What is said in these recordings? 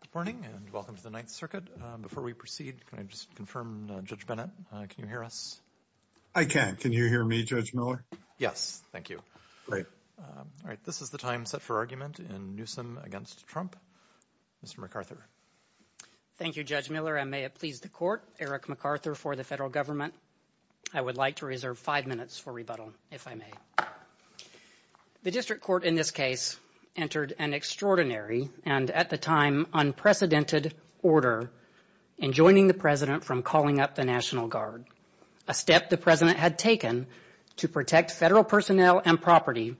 Good morning and welcome to the Ninth Circuit. Before we proceed, can I just confirm, Judge Bennett, can you hear us? I can. Can you hear me, Judge Miller? Yes, thank you. Great. All right. This is the time set for argument in Newsom v. Trump. Mr. MacArthur. Thank you, Judge Miller. I may have pleased the court, Eric MacArthur, for the federal government. I would like to reserve five minutes for rebuttal, if I may. The district court in this case entered an extraordinary and, at the time, unprecedented order in joining the president from calling up the National Guard, a step the president had taken to protect federal personnel and property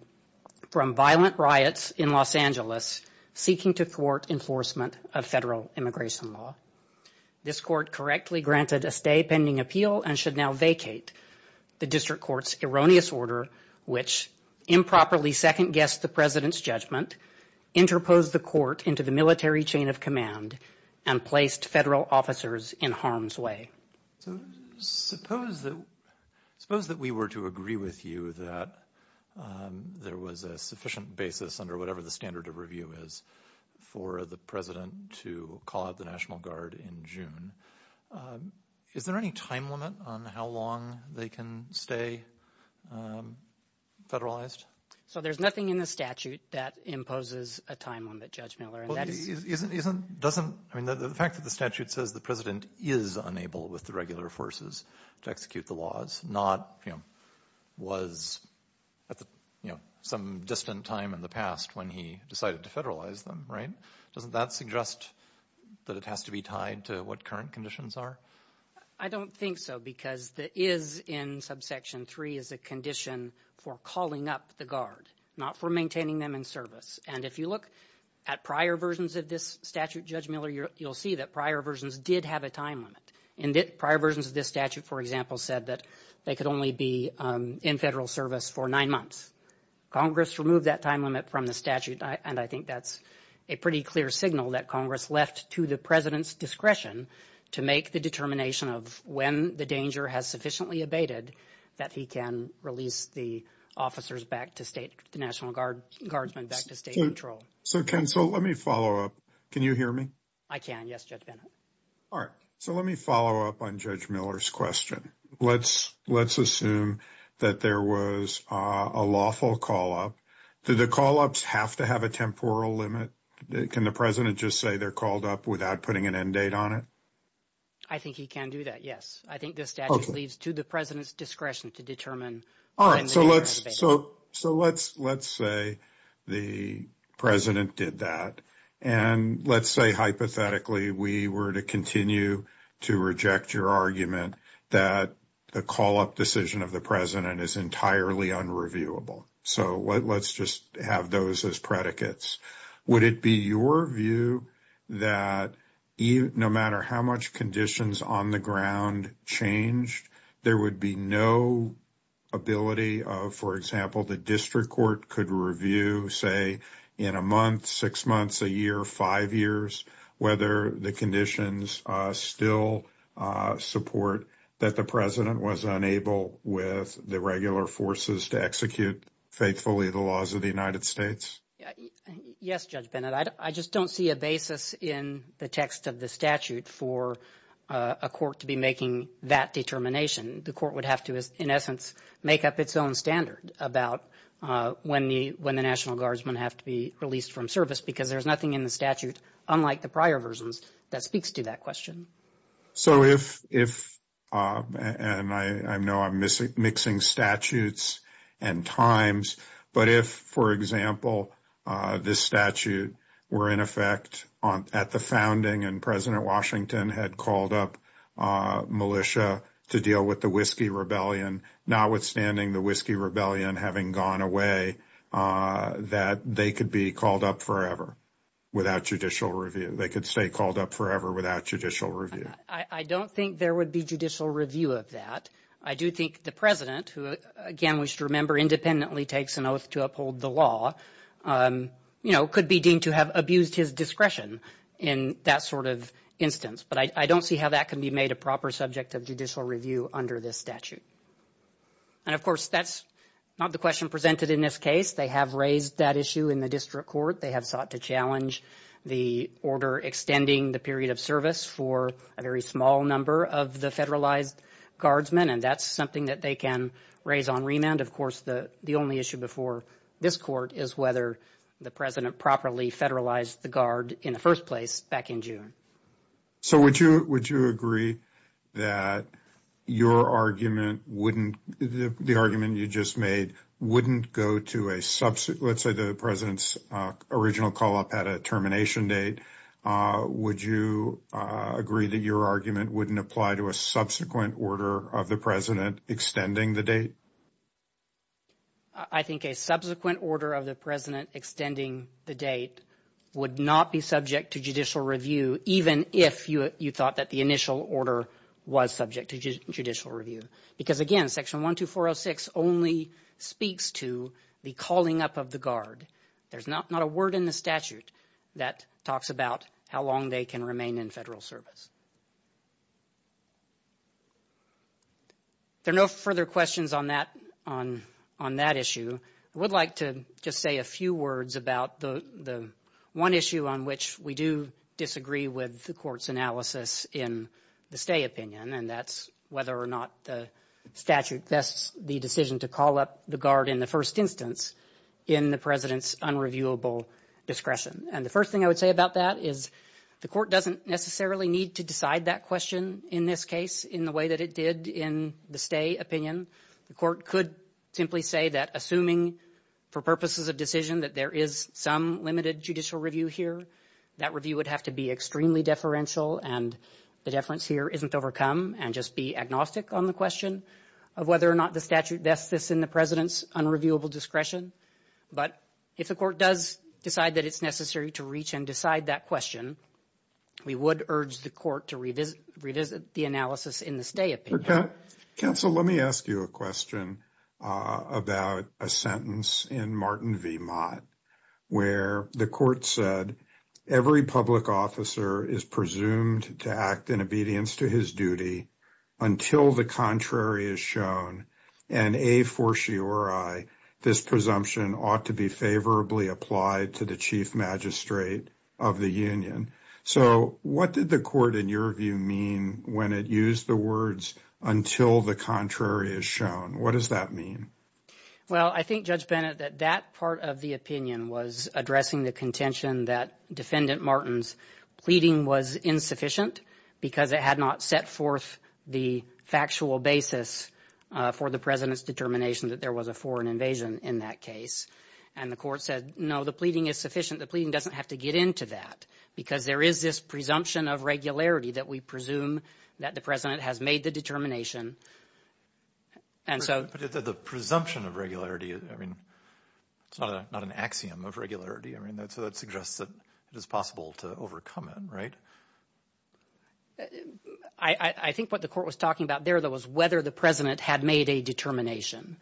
from violent riots in Los Angeles seeking to thwart enforcement of federal immigration law. This court correctly granted a stay pending appeal and should now vacate. The district court's erroneous order, which improperly second-guessed the president's judgment, interposed the court into the military chain of command and placed federal officers in harm's way. Suppose that we were to agree with you that there was a sufficient basis under whatever the standard of review is for the president to call out the National Guard in June. Is there any time limit on how long they can stay federalized? So there's nothing in the statute that imposes a time limit, Judge Miller. I mean, the fact that the statute says the president is unable, with the regular forces, to execute the laws, was at some distant time in the past when he decided to federalize them, right? Doesn't that suggest that it has to be tied to what current conditions are? I don't think so, because the is in subsection 3 is a condition for calling up the Guard, not for maintaining them in service. And if you look at prior versions of this statute, Judge Miller, you'll see that prior versions did have a time limit, and prior versions of this statute, for example, said that they could only be in federal service for nine months. Congress removed that time limit from the statute, and I think that's a pretty clear signal that Congress left to the president's discretion to make the determination of when the danger has sufficiently abated that he can release the officers back to state, the National Guardsmen back to state control. So, Ken, so let me follow up. Can you hear me? I can, yes, Judge Bennett. All right, so let me follow up on Judge Miller's question. Let's assume that there was a lawful call-up. Do the call-ups have to have a temporal limit? Can the president just say they're called up without putting an end date on it? I think he can do that, yes. I think the statute leads to the president's discretion to determine when the danger has abated. So let's say the president did that, and let's say, hypothetically, we were to continue to reject your argument that the call-up decision of the president is entirely unreviewable. So let's just have those as predicates. Would it be your view that no matter how much conditions on the ground change, there would be no ability, for example, the district court could review, say, in a month, six months, a year, five years, whether the conditions still support that the president was unable with the regular forces to execute faithfully the laws of the United States? Yes, Judge Bennett. I just don't see a basis in the text of the statute for a court to be making that determination. The court would have to, in essence, make up its own standard about when the National Guard is going to have to be released from service, because there's nothing in the statute, unlike the prior versions, that speaks to that question. So if, and I know I'm mixing statutes and times, but if, for example, this statute were in effect at the founding and President Washington had called up militia to deal with the Whiskey Rebellion, notwithstanding the Whiskey Rebellion having gone away, that they could be called up forever without judicial review. They could stay called up forever without judicial review. I don't think there would be judicial review of that. I do think the president, who, again, we should remember, independently takes an oath to uphold the law, you know, could be deemed to have abused his discretion in that sort of instance, but I don't see how that can be made a proper subject of judicial review under this statute. And of course, that's not the question presented in this case. They have raised that issue in the district court. They have sought to challenge the order extending the period of service for a very small number of the federalized guardsmen, and that's something that they can raise on Of course, the only issue before this court is whether the president properly federalized the guard in the first place back in June. So, would you agree that your argument wouldn't, the argument you just made, wouldn't go to a subsequent, let's say the president's original call-up had a termination date, would you agree that your argument wouldn't apply to a subsequent order of the president extending the date? I think a subsequent order of the president extending the date would not be subject to judicial review, even if you thought that the initial order was subject to judicial review. Because again, section 12406 only speaks to the calling up of the guard. There's not a word in the statute that talks about how long they can remain in federal service. There are no further questions on that, on that issue. I would like to just say a few words about the one issue on which we do disagree with the court's analysis in the stay opinion, and that's whether or not the statute vests the decision to call up the guard in the first instance in the president's unreviewable discretion. And the first thing I would say about that is the court doesn't necessarily need to decide that question in this case in the way that it did in the stay opinion. The court could simply say that assuming for purposes of decision that there is some limited judicial review here, that review would have to be extremely deferential and the deference here isn't overcome and just be agnostic on the question of whether or not the statute vests this in the president's unreviewable discretion. But if the court does decide that it's necessary to reach and decide that question, we would urge the court to revisit the analysis in the stay opinion. Counsel, let me ask you a question about a sentence in Martin V. Mott where the court said, every public officer is presumed to act in obedience to his duty until the contrary is shown and a for sure I, this presumption ought to be favorably applied to the chief magistrate of the union. So what did the court in your view mean when it used the words until the contrary is shown? What does that mean? Well, I think Judge Bennett, that that part of the opinion was addressing the contention that defendant Martin's pleading was insufficient because it had not set forth the factual basis for the president's determination that there was a foreign invasion in that case. And the court said, no, the pleading is sufficient. The pleading doesn't have to get into that because there is this presumption of regularity that we presume that the president has made the determination. And so the presumption of regularity, I mean, not an axiom of regularity. I mean, that suggests that it is possible to overcome it. Right. I think what the court was talking about there, though, was whether the president had made a determination.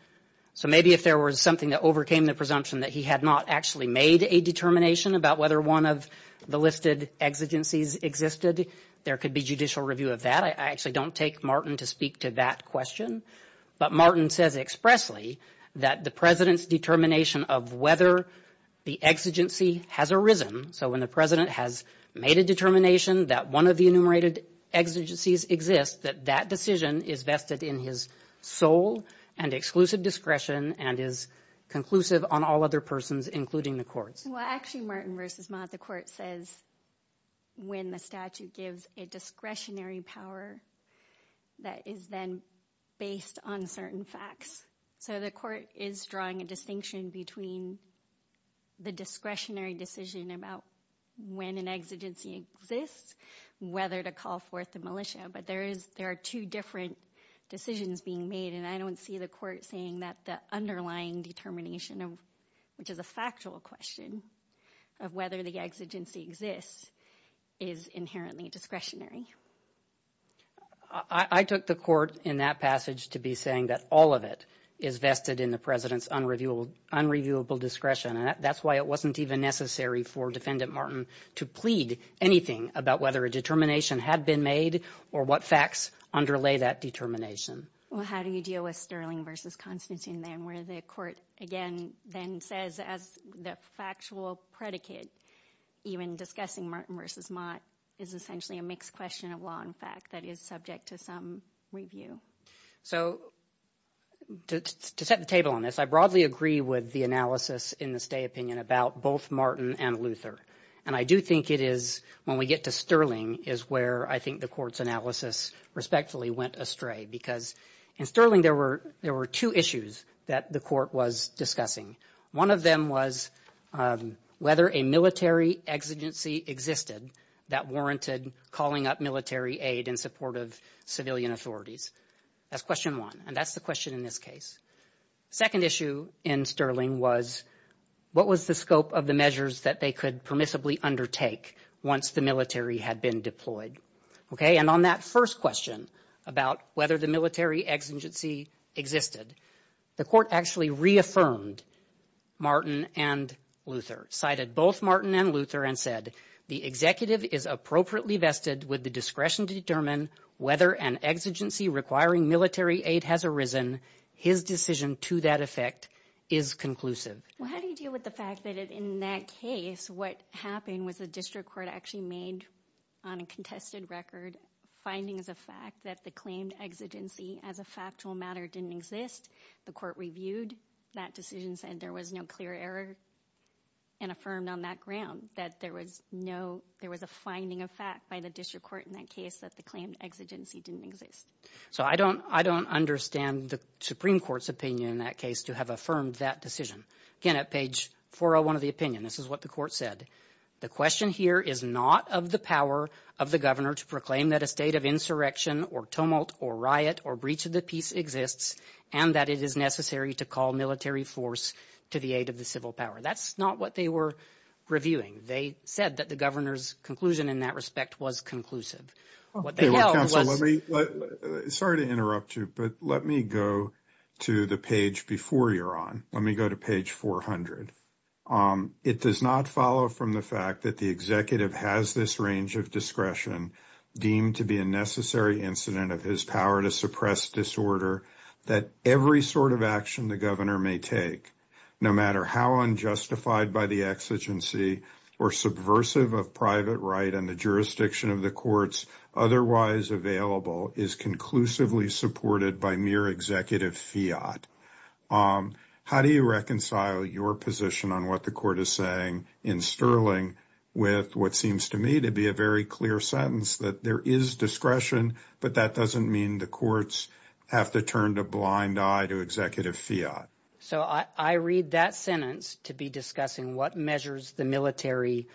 So maybe if there was something that overcame the presumption that he had not actually made a determination about whether one of the listed exigencies existed, there could be judicial review of that. I actually don't take Martin to speak to that question. But Martin says expressly that the president's determination of whether the exigency has arisen. So when the president has made a determination that one of the enumerated exigencies exists, that that decision is vested in his soul and exclusive discretion and is conclusive on all other persons, including the court. Well, actually, Martin vs. Mott, the court says when the statute gives a discretionary power that is then based on certain facts. So the court is drawing a distinction between the discretionary decision about when an exigency exists, whether to call forth the decisions being made. And I don't see the court saying that the underlying determination of which is a factual question of whether the exigency exists is inherently discretionary. I took the court in that passage to be saying that all of it is vested in the president's unreviewable discretion. And that's why it wasn't even necessary for defendant Martin to plead anything about whether a determination had been made or what facts underlay that determination. Well, how do you deal with Sterling vs. Constantine then where the court again then says as the factual predicate, even discussing Martin vs. Mott is essentially a mixed question of long fact that is subject to some review. So to set the table on this, I broadly agree with analysis in the state opinion about both Martin and Luther. And I do think it is when we get to Sterling is where I think the court's analysis respectfully went astray because in Sterling, there were two issues that the court was discussing. One of them was whether a military exigency existed that warranted calling up military aid in support of civilian authorities. That's question one. And that's the question in this case. Second issue in Sterling was, what was the scope of the measures that they could permissibly undertake once the military had been deployed? Okay. And on that first question about whether the military exigency existed, the court actually reaffirmed Martin and Luther, cited both Martin and Luther and said, the executive is appropriately vested with the discretion to determine whether an exigency requiring military aid has arisen. His decision to that effect is conclusive. Well, how do you deal with the fact that in that case, what happened was a district court actually made on a contested record finding as a fact that the claimed exigency as a factual matter didn't exist. The court reviewed that decision said there was no clear error and affirmed on that ground that there was no, there was a finding of fact by the district court in that case that the claim exigency didn't exist. So I don't, I don't understand the Supreme Court's opinion in that case to have affirmed that decision. Again, at page 401 of the opinion, this is what the court said. The question here is not of the power of the governor to proclaim that a state of insurrection or tumult or riot or breach of the peace exists, and that it is to call military force to the aid of the civil power. That's not what they were reviewing. They said that the governor's conclusion in that respect was conclusive. Sorry to interrupt you, but let me go to the page before you're on, let me go to page 400. It does not follow from the fact that the executive has this range of discretion deemed to be a necessary incident of his power to suppress disorder, that every sort of action the governor may take, no matter how unjustified by the exigency or subversive of private right and the jurisdiction of the courts otherwise available, is conclusively supported by mere executive fiat. How do you reconcile your position on what the court is saying in Sterling with what seems to me to be a very clear sentence that there is discretion, but that doesn't mean the courts have to turn a blind eye to executive fiat? So I read that sentence to be discussing what measures the military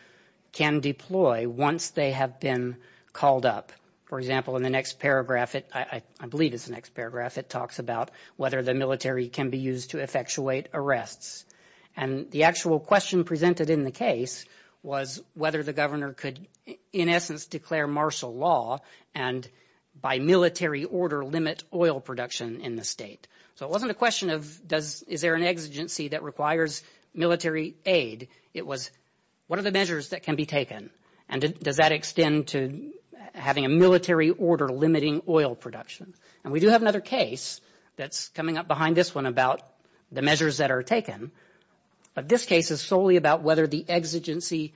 can deploy once they have been called up. For example, in the next paragraph, I believe it's the next paragraph, it talks about whether the military can be used to effectuate arrests. And the actual question presented in the case was whether the governor could in essence declare martial law and by military order limit oil production in the state. So it wasn't a question of, is there an exigency that requires military aid? It was, what are the measures that can be taken? And does that extend to having a military order limiting oil production? And we do have another case that's coming up about the measures that are taken. But this case is solely about whether the exigency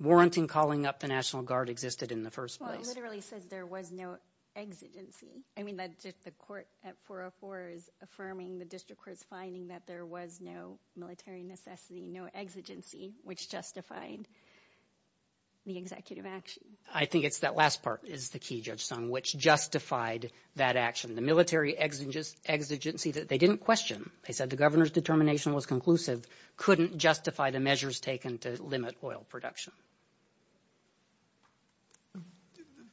warranting calling up the National Guard existed in the first place. You literally said there was no exigency. I mean, that's just the court at 404 is affirming the district court's finding that there was no military necessity, no exigency, which justified the executive action. I think it's that last part is the key, Judge Song, which justified that action, the military exigency that they didn't question. They said the governor's determination was conclusive, couldn't justify the measures taken to limit oil production.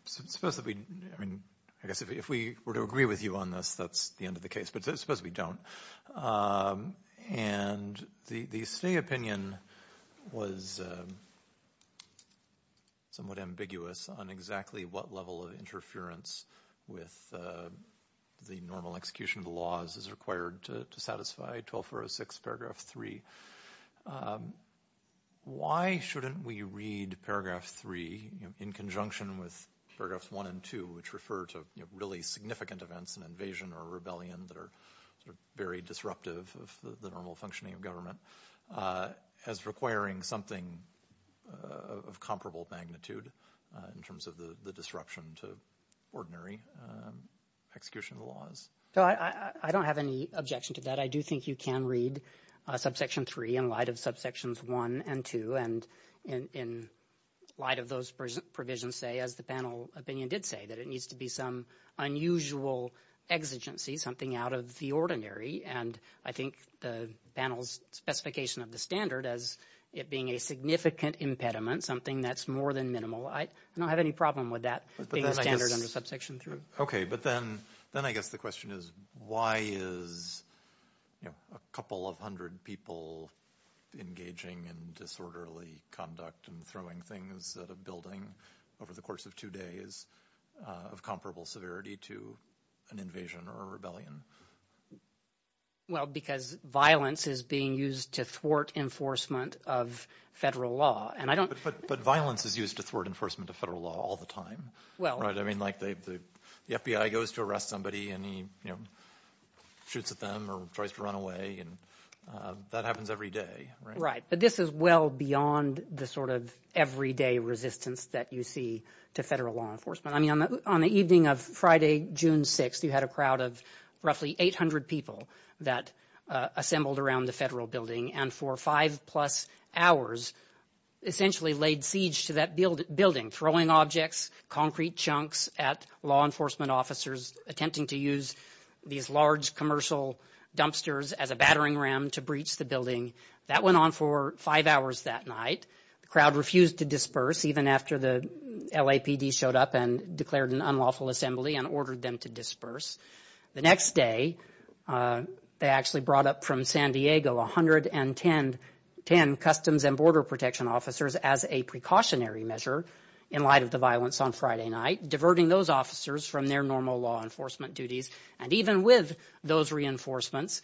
Specifically, I mean, if we were to agree with you on this, that's the end of the case, but that's supposed to be done. And the state opinion was somewhat ambiguous on exactly what level of interference with the normal execution of the laws is required to satisfy 12406 paragraph three. Why shouldn't we read paragraph three in conjunction with paragraphs one and two, which refer to really significant events, an invasion or rebellion that are very disruptive of the normal functioning of government as requiring something of comparable magnitude in terms of the disruption to ordinary execution of the laws? So I don't have any objection to that. I do think you can read subsection three in light of subsections one and two, and in light of those provisions, say, as the panel opinion did say, that it needs to be some unusual exigency, something out of the ordinary. And I think the panel's specification of the standard as it being a significant impediment, something that's more than minimal, I don't have any problem with that standard under subsection three. Okay. But then I guess the question is, why is a couple of hundred people engaging in disorderly conduct and throwing things at a building over the course of two days of comparable severity to an invasion or a rebellion? Well, because violence is being used to thwart enforcement of federal law, and I don't... But violence is used to thwart enforcement of federal law all the time. Well... I mean, like the FBI goes to arrest somebody and he, you know, shoots at them or tries to run away, and that happens every day, right? But this is well beyond the sort of everyday resistance that you see to federal law enforcement. I mean, on the evening of Friday, June 6th, you had a crowd of roughly 800 people that assembled around the federal building and for five plus hours essentially laid siege to that building, throwing objects, concrete chunks at law enforcement officers attempting to use these large commercial dumpsters as a battering ram to breach the building. That went on for five hours that night. The crowd refused to disperse even after the LAPD showed up and declared an unlawful assembly and ordered them to disperse. The next day, they actually brought up from San Diego 110 Customs and Border Protection officers as a precautionary measure in light of the violence on Friday night, diverting those officers from their normal law enforcement duties. And even with those reinforcements,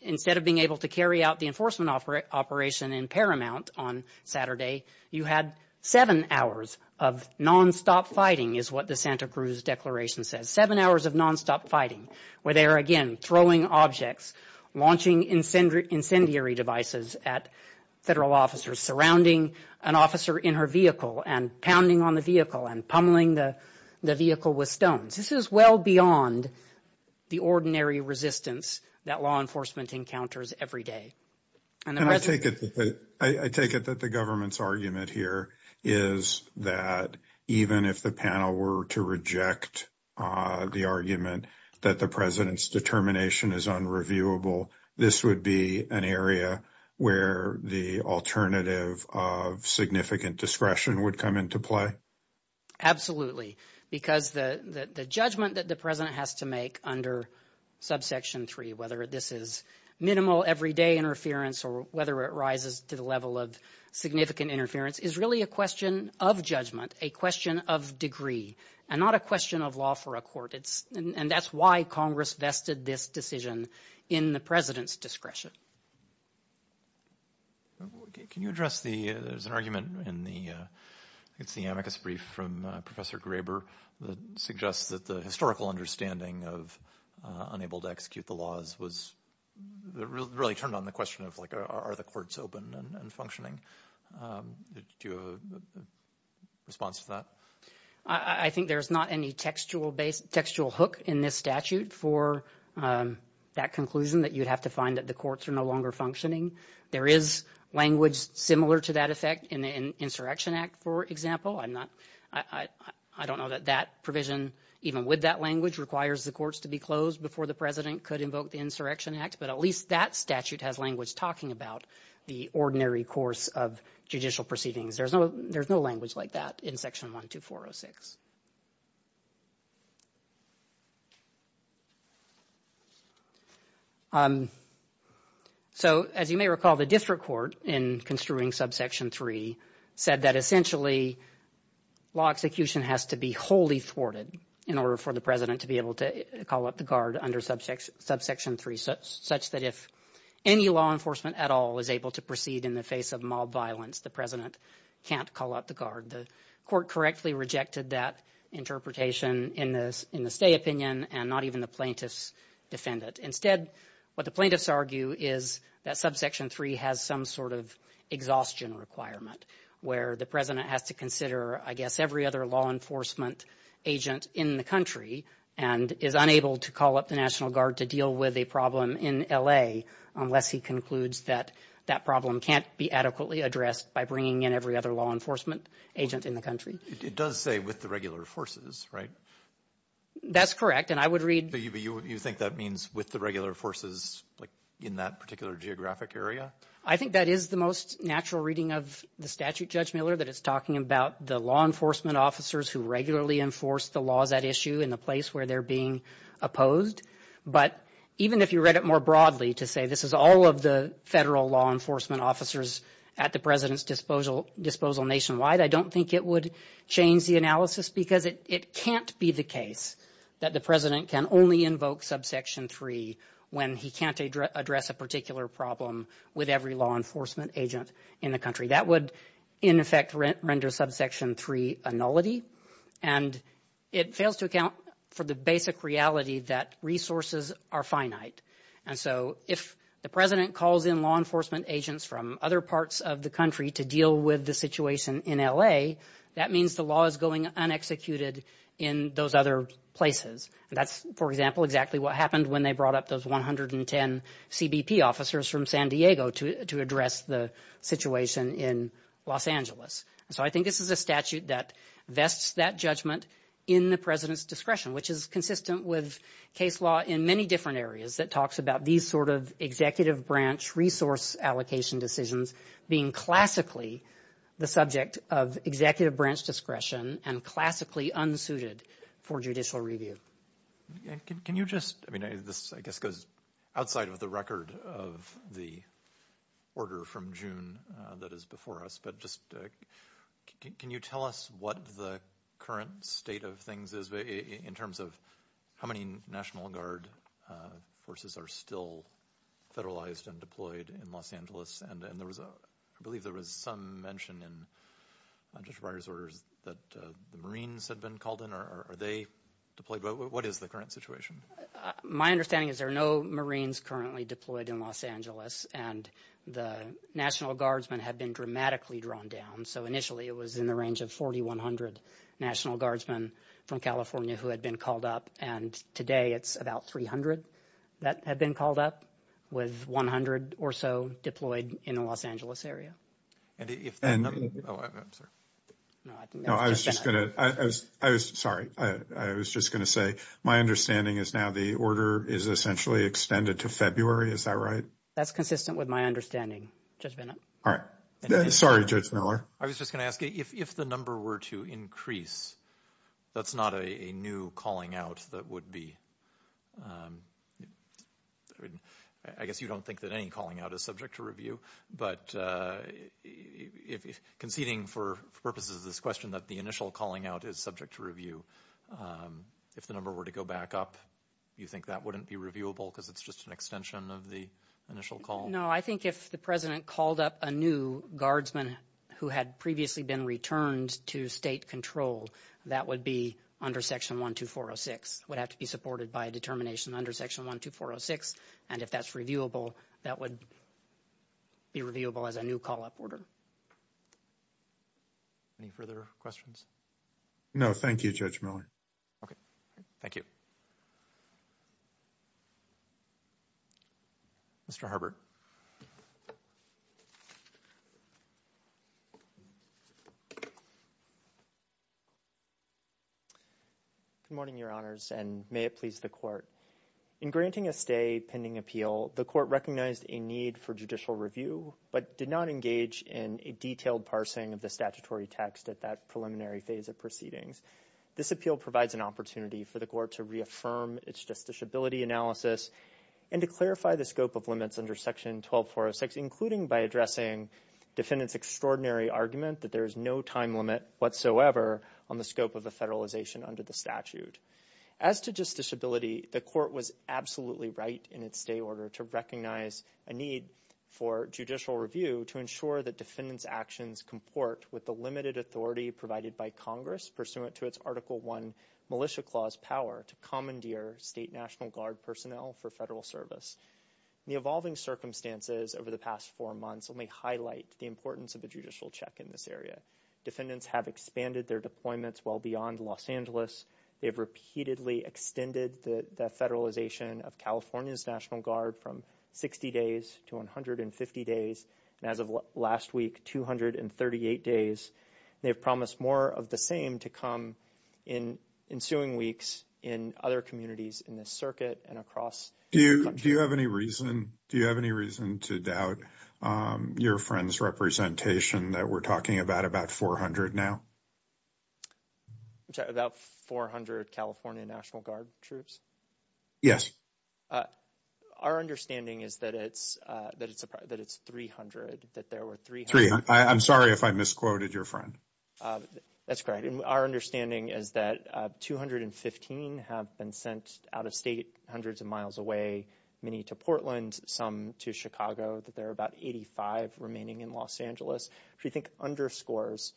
instead of being able to carry out the enforcement operation in Paramount on Saturday, you had seven hours of non-stop fighting is what the Santa Cruz Declaration says. Seven hours of non-stop fighting where they are again throwing objects, launching incendiary devices at federal officers, surrounding an officer in her vehicle and pounding on the vehicle and pummeling the vehicle with stones. This is well beyond the ordinary resistance that law enforcement encounters every day. I take it that the government's argument here is that even if the panel were to reject the argument that the president's determination is unreviewable, this would be an area where the alternative of significant discretion would come into play? Absolutely, because the judgment that the president has to make under subsection three, whether this is minimal everyday interference or whether it rises to the level of significant interference is really a question of judgment, a question of degree and not a question of law for a court. And that's why Congress vested this decision in the president's discretion. Can you address the argument in the amicus brief from Professor Graber that suggests that the historical understanding of unable to execute the laws was really turned on the question of are the courts open and functioning? Do you have a response to that? I think there's not any textual hook in this statute for that conclusion that you'd have to find that the courts are no longer functioning. There is language similar to that effect in the Insurrection Act, for example. I don't know that that provision, even with that language, requires the courts to be closed before the president could invoke the Insurrection Act, but at least that statute has language talking about the ordinary course of judicial proceedings. There's no language like that in section 12406. So, as you may recall, the district court in construing subsection 3 said that essentially law execution has to be wholly thwarted in order for the president to be able to call up the guard under subsection 3, such that if any law enforcement at all is able to proceed in the face of mild violence, the president can't call up the guard. The court correctly rejected that not even the plaintiffs defended. Instead, what the plaintiffs argue is that subsection 3 has some sort of exhaustion requirement where the president has to consider, I guess, every other law enforcement agent in the country and is unable to call up the National Guard to deal with a problem in LA unless he concludes that that problem can't be adequately addressed by bringing in every other law enforcement agent in the country. It does say with the regular forces, right? That's correct, and I would read... But you think that means with the regular forces, like, in that particular geographic area? I think that is the most natural reading of the statute, Judge Miller, that it's talking about the law enforcement officers who regularly enforce the law of that issue in the place where they're being opposed. But even if you read it more broadly to say this is all of the federal law enforcement officers at the president's disposal nationwide, I don't think it would change the analysis because it can't be the case that the president can only invoke subsection 3 when he can't address a particular problem with every law enforcement agent in the country. That would, in effect, render subsection 3 a nullity, and it fails to account for the basic reality that resources are finite. And so if the president calls in law enforcement agents from other parts of the country to deal with the situation in LA, that means the law is going unexecuted in those other places. That's, for example, exactly what happened when they brought up those 110 CBP officers from San Diego to address the situation in Los Angeles. So I think this is a statute that vests that judgment in the president's discretion, which is consistent with case law in many different areas that talks about these sort of executive branch resource allocation decisions being classically the subject of executive branch discretion and classically unsuited for judicial review. Can you just, I mean this I guess goes outside of the record of the order from June that is before us, but just can you tell us what the current state of things is in terms of how many National Guard forces are still federalized and deployed in Los Angeles? And there was a, I believe there was some mention in Judge Breyer's orders that the Marines had been called in. Are they deployed? What is the current situation? My understanding is there are no Marines currently deployed in Los Angeles, and the National Guardsmen have been dramatically drawn down. So initially it was in the range of 4,100 National Guardsmen from California who had been called up, and today it's about 300 that have been called up, with 100 or so deployed in the Los Angeles area. I was just gonna, I was sorry, I was just gonna say my understanding is now the order is essentially extended to February, is that right? That's consistent with my understanding, Judge Bennett. All right, sorry Judge Miller. I was just gonna ask if the number were to increase, that's not a new calling out that would be, I guess you don't think that any calling out is subject to review, but conceding for purposes of this question that the initial calling out is subject to review, if the number were to go back up, do you think that wouldn't be reviewable because it's just an extension of the initial call? No, I think if the President called up a new Guardsman who had previously been returned to state control, that would be under Section 12406, would have to be supported by a determination under Section 12406, and if that's reviewable, that would be reviewable as a new call-up order. Any further questions? No, thank you, Judge Miller. Okay, thank you. Mr. Harbert. Good morning, Your Honors, and may it please the Court. In granting a stay pending appeal, the Court recognized a need for judicial review, but did not engage in a detailed parsing of the statutory text at that preliminary phase of proceedings. This appeal provides an opportunity for the Court to reaffirm its justiciability analysis and to clarify the scope of limits under Section 12406, including by addressing defendant's extraordinary argument that there is no time limit whatsoever on the scope of a federalization under the statute. As to justiciability, the Court was absolutely right in its stay order to recognize a need for judicial review to ensure that defendant's actions comport with the limited authority provided by Congress pursuant to its Article I Militia Clause power to commandeer state National Guard personnel for federal service. The evolving circumstances over the past four months only highlight the judicial check in this area. Defendants have expanded their deployments well beyond Los Angeles. They've repeatedly extended the federalization of California's National Guard from 60 days to 150 days, and as of last week, 238 days. They've promised more of the same to come in ensuing weeks in other communities in this circuit and across. Do you have any reason to doubt your friend's representation that we're talking about about 400 now? About 400 California National Guard troops? Yes. Our understanding is that it's 300. I'm sorry if I misquoted your friend. That's correct. Our understanding is that 215 have been sent out of state hundreds of miles away, many to Portland, some to Chicago. There are about 85 remaining in Los Angeles, which I think underscores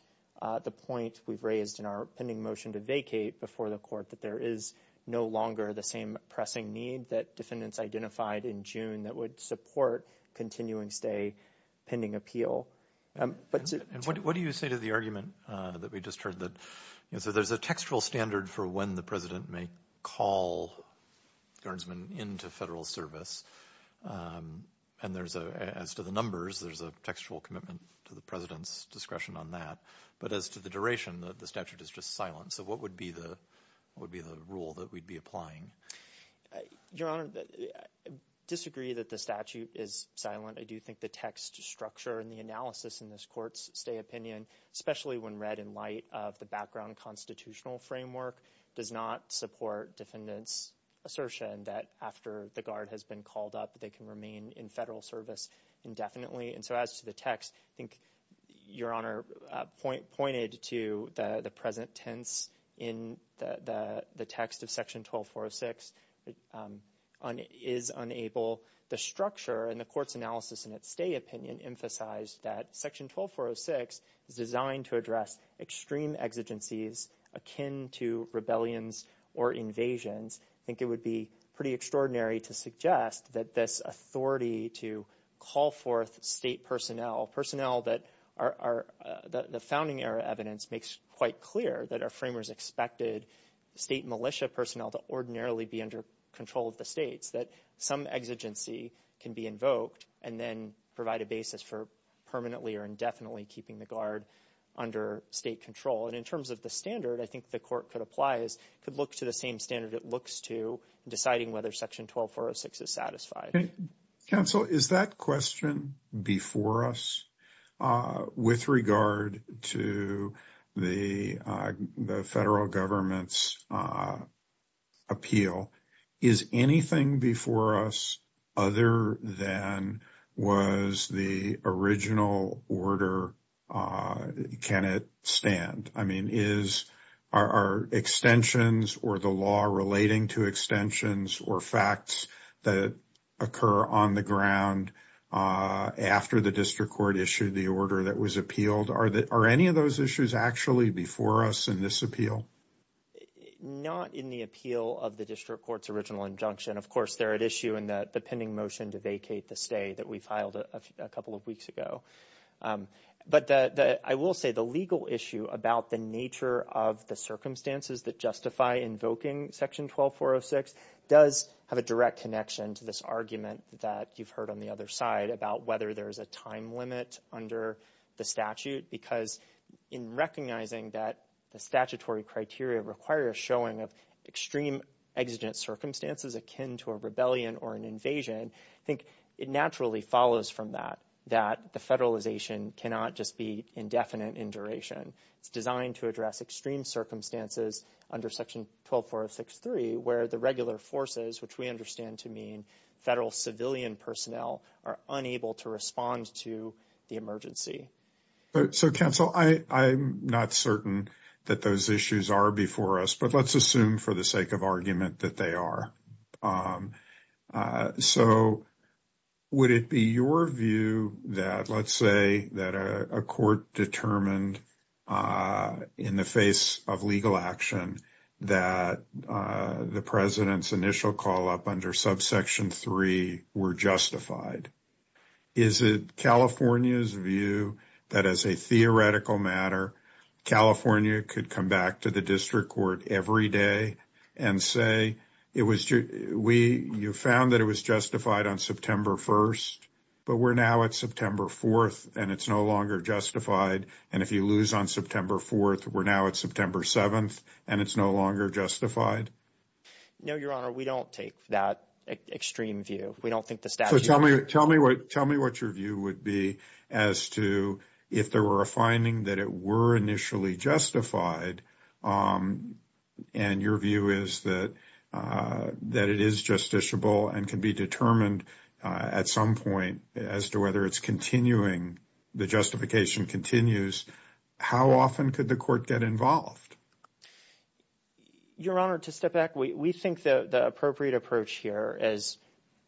the point we've raised in our pending motion to vacate before the Court that there is no longer the same pressing need that defendants identified in June that would support continuance day pending appeal. What do you say to the that we just heard? There's a textual standard for when the President may call guardsmen into federal service, and as to the numbers, there's a textual commitment to the President's discretion on that, but as to the duration, the statute is just silent. What would be the rule that we'd be applying? Your Honor, I disagree that the statute is silent. I do think the text structure and the analysis in this Court's opinion, especially when read in light of the background constitutional framework, does not support defendants' assertion that after the Guard has been called up, they can remain in federal service indefinitely, and so as to the text, I think Your Honor pointed to the present tense in the text of Section 12406 is unable, the structure and the Court's analysis in its stay opinion emphasize that Section 12406 is designed to address extreme exigencies akin to rebellions or invasions. I think it would be pretty extraordinary to suggest that this authority to call forth state personnel, personnel that are the founding era evidence makes quite clear that our framers expected state militia personnel to ordinarily be under control of the states, that some exigency can be invoked and then provide a basis for permanently or indefinitely keeping the Guard under state control, and in terms of the standard, I think the Court could apply, could look to the same standard it looks to deciding whether Section 12406 is satisfied. Counsel, is that question before us with regard to the federal government's appeal? Is anything before us other than was the original order, can it stand? I mean, are extensions or the law relating to extensions or facts that occur on the ground after the District Court issued the order that was appealed? Are any of those issues actually before us in this appeal? Not in the appeal of the District Court's original injunction. Of course, they're at issue in the pending motion to vacate the stay that we filed a couple of weeks ago, but I will say the legal issue about the nature of the circumstances that justify invoking Section 12406 does have a direct connection to this argument that you've heard on the other side about whether there's a time limit under the statute, because in recognizing that the statutory criteria require showing of extreme exigent circumstances akin to a rebellion or an invasion, I think it naturally follows from that, that the federalization cannot just be indefinite in duration, designed to address extreme circumstances under Section 124063, where the regular forces, which we understand to mean federal civilian personnel, are unable to respond to the emergency. So, Counsel, I'm not certain that those issues are before us, but let's assume for the argument that they are. So, would it be your view that, let's say, that a court determined in the face of legal action that the President's initial call-up under Subsection 3 were justified? Is it California's view that, as a theoretical matter, California could come back to the court and say, you found that it was justified on September 1st, but we're now at September 4th, and it's no longer justified, and if you lose on September 4th, we're now at September 7th, and it's no longer justified? No, Your Honor, we don't take that extreme view. We don't think the statute... So, tell me what your view would be as to if there were a finding that it were initially justified, and your view is that it is justiciable and can be determined at some point as to whether it's continuing, the justification continues, how often could the court get involved? Your Honor, to step back, we think the appropriate approach here is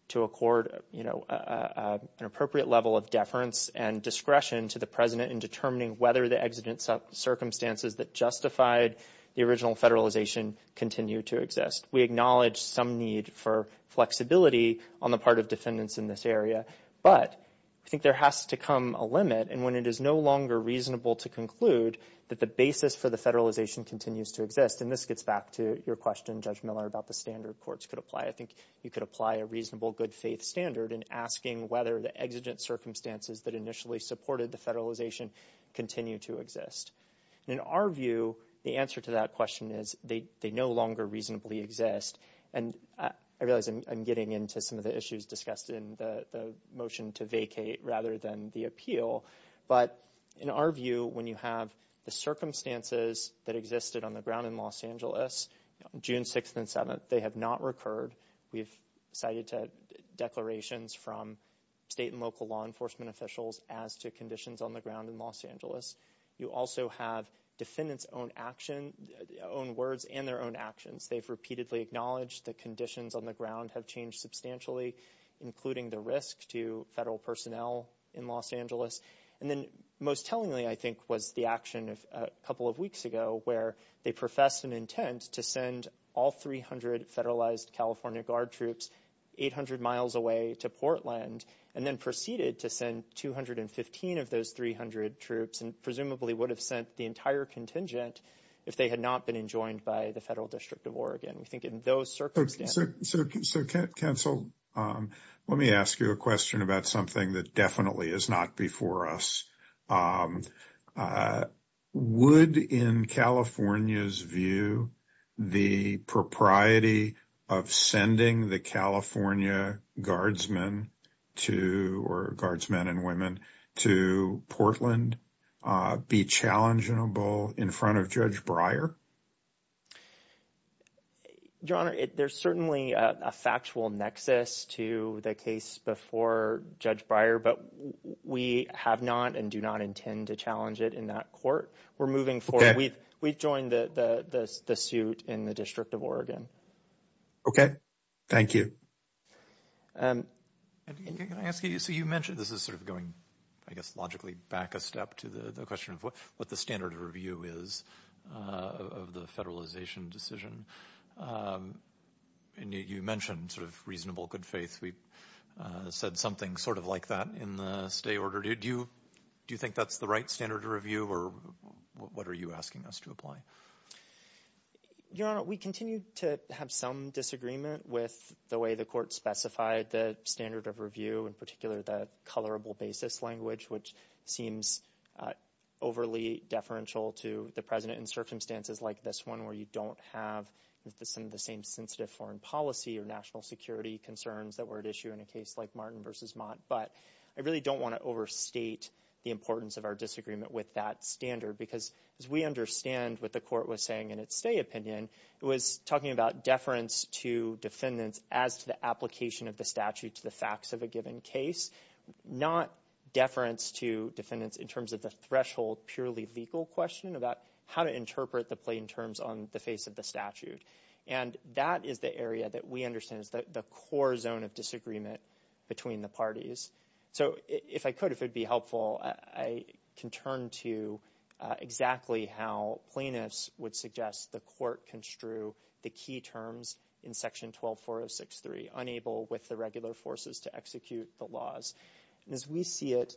to accord, you know, an appropriate level of deference and discretion to the President in determining whether the circumstances that justified the original federalization continue to exist. We acknowledge some need for flexibility on the part of defendants in this area, but I think there has to come a limit, and when it is no longer reasonable to conclude that the basis for the federalization continues to exist, and this gets back to your question, Judge Miller, about the standard courts could apply. I think you could apply a reasonable good faith standard in asking whether the exigent circumstances that initially supported the federalization continue to exist. In our view, the answer to that question is they no longer reasonably exist, and I realize I'm getting into some of the issues discussed in the motion to vacate rather than the appeal, but in our view, when you have the circumstances that existed on the ground in Los Angeles, June 6th and 7th, they have not recurred. We've cited declarations from state and local law enforcement officials as to conditions on the ground in Los Angeles. You also have defendants' own action, own words, and their own actions. They've repeatedly acknowledged the conditions on the ground have changed substantially, including the risk to federal personnel in Los Angeles, and then most tellingly, I think, was the action a couple of weeks ago where they professed an federalized California Guard troops 800 miles away to Portland and then proceeded to send 215 of those 300 troops and presumably would have sent the entire contingent if they had not been enjoined by the Federal District of Oregon. I think in those circumstances... So, counsel, let me ask you a question about something that definitely is not before us. Would, in California's view, the propriety of sending the California Guardsmen to, or Guardsmen and Women, to Portland be challengeable in front of Judge Breyer? Your Honor, there's certainly a factual nexus to the case before Judge Breyer, but we have not and intend to challenge it in that court. We're moving forward. We've joined the suit in the District of Oregon. Okay. Thank you. So, you mentioned this is sort of going, I guess, logically back a step to the question of what the standard of review is of the federalization decision. And you mentioned sort of reasonable good faith. We've said something sort of like in the stay order. Do you think that's the right standard of review or what are you asking us to apply? Your Honor, we continue to have some disagreement with the way the court specified the standard of review, in particular, the colorable basis language, which seems overly deferential to the President in circumstances like this one where you don't have some of the same sensitive foreign policy or national security concerns that were at issue in a case like Martin v. Mott. But I really don't want to overstate the importance of our disagreement with that standard because as we understand what the court was saying in its stay opinion, it was talking about deference to defendants as to the application of the statute to the facts of a given case, not deference to defendants in terms of the threshold purely legal question about how to interpret the plain terms on the face of the statute. And that is the area that we understand the core zone of disagreement between the parties. So if I could, if it'd be helpful, I can turn to exactly how plaintiffs would suggest the court construe the key terms in section 124063, unable with the regular forces to execute the laws. As we see it,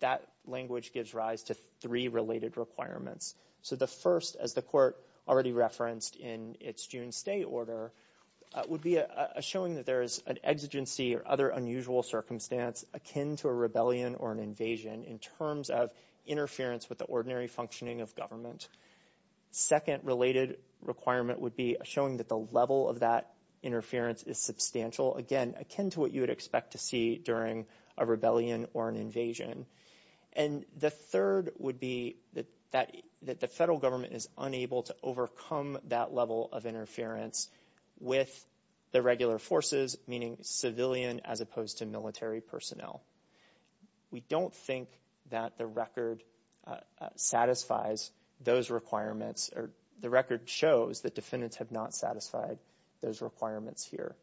that language gives rise to three related requirements. So the first, as the court already referenced in its June stay order, would be a showing that there is an exigency or other unusual circumstance akin to a rebellion or an invasion in terms of interference with the ordinary functioning of government. Second related requirement would be showing that the level of that interference is substantial, again, akin to what you would expect to see during a rebellion or an invasion. And the third would be that the federal government is unable to overcome that level of interference with the regular forces, meaning civilian as opposed to military personnel. We don't think that the record satisfies those requirements, or the record shows that defendants have not satisfied those requirements here.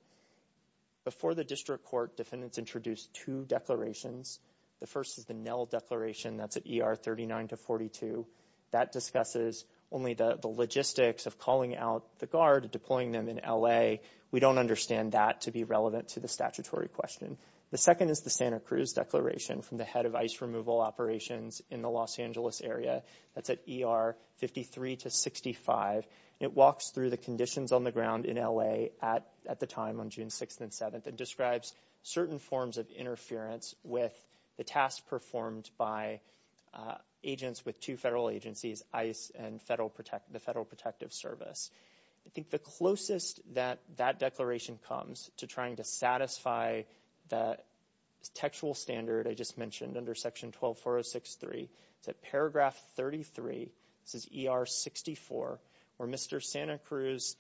Before the district court, defendants introduced two declarations. The first is the NEL declaration that's at ER 39 to 42. That discusses only the logistics of calling out the guard, deploying them in L.A. We don't understand that to be relevant to the statutory question. The second is the Santa Cruz declaration from the head of ice removal operations in the Los Angeles area. That's at ER 53 to 65. It walks through the conditions on the ground in L.A. at the time on June 6th and 7th. It describes certain forms of with the task performed by agents with two federal agencies, ICE and the Federal Protective Service. I think the closest that that declaration comes to trying to satisfy the textual standard I just mentioned under section 124063 is at paragraph 33, this is ER 64, where Mr. Santa Cruz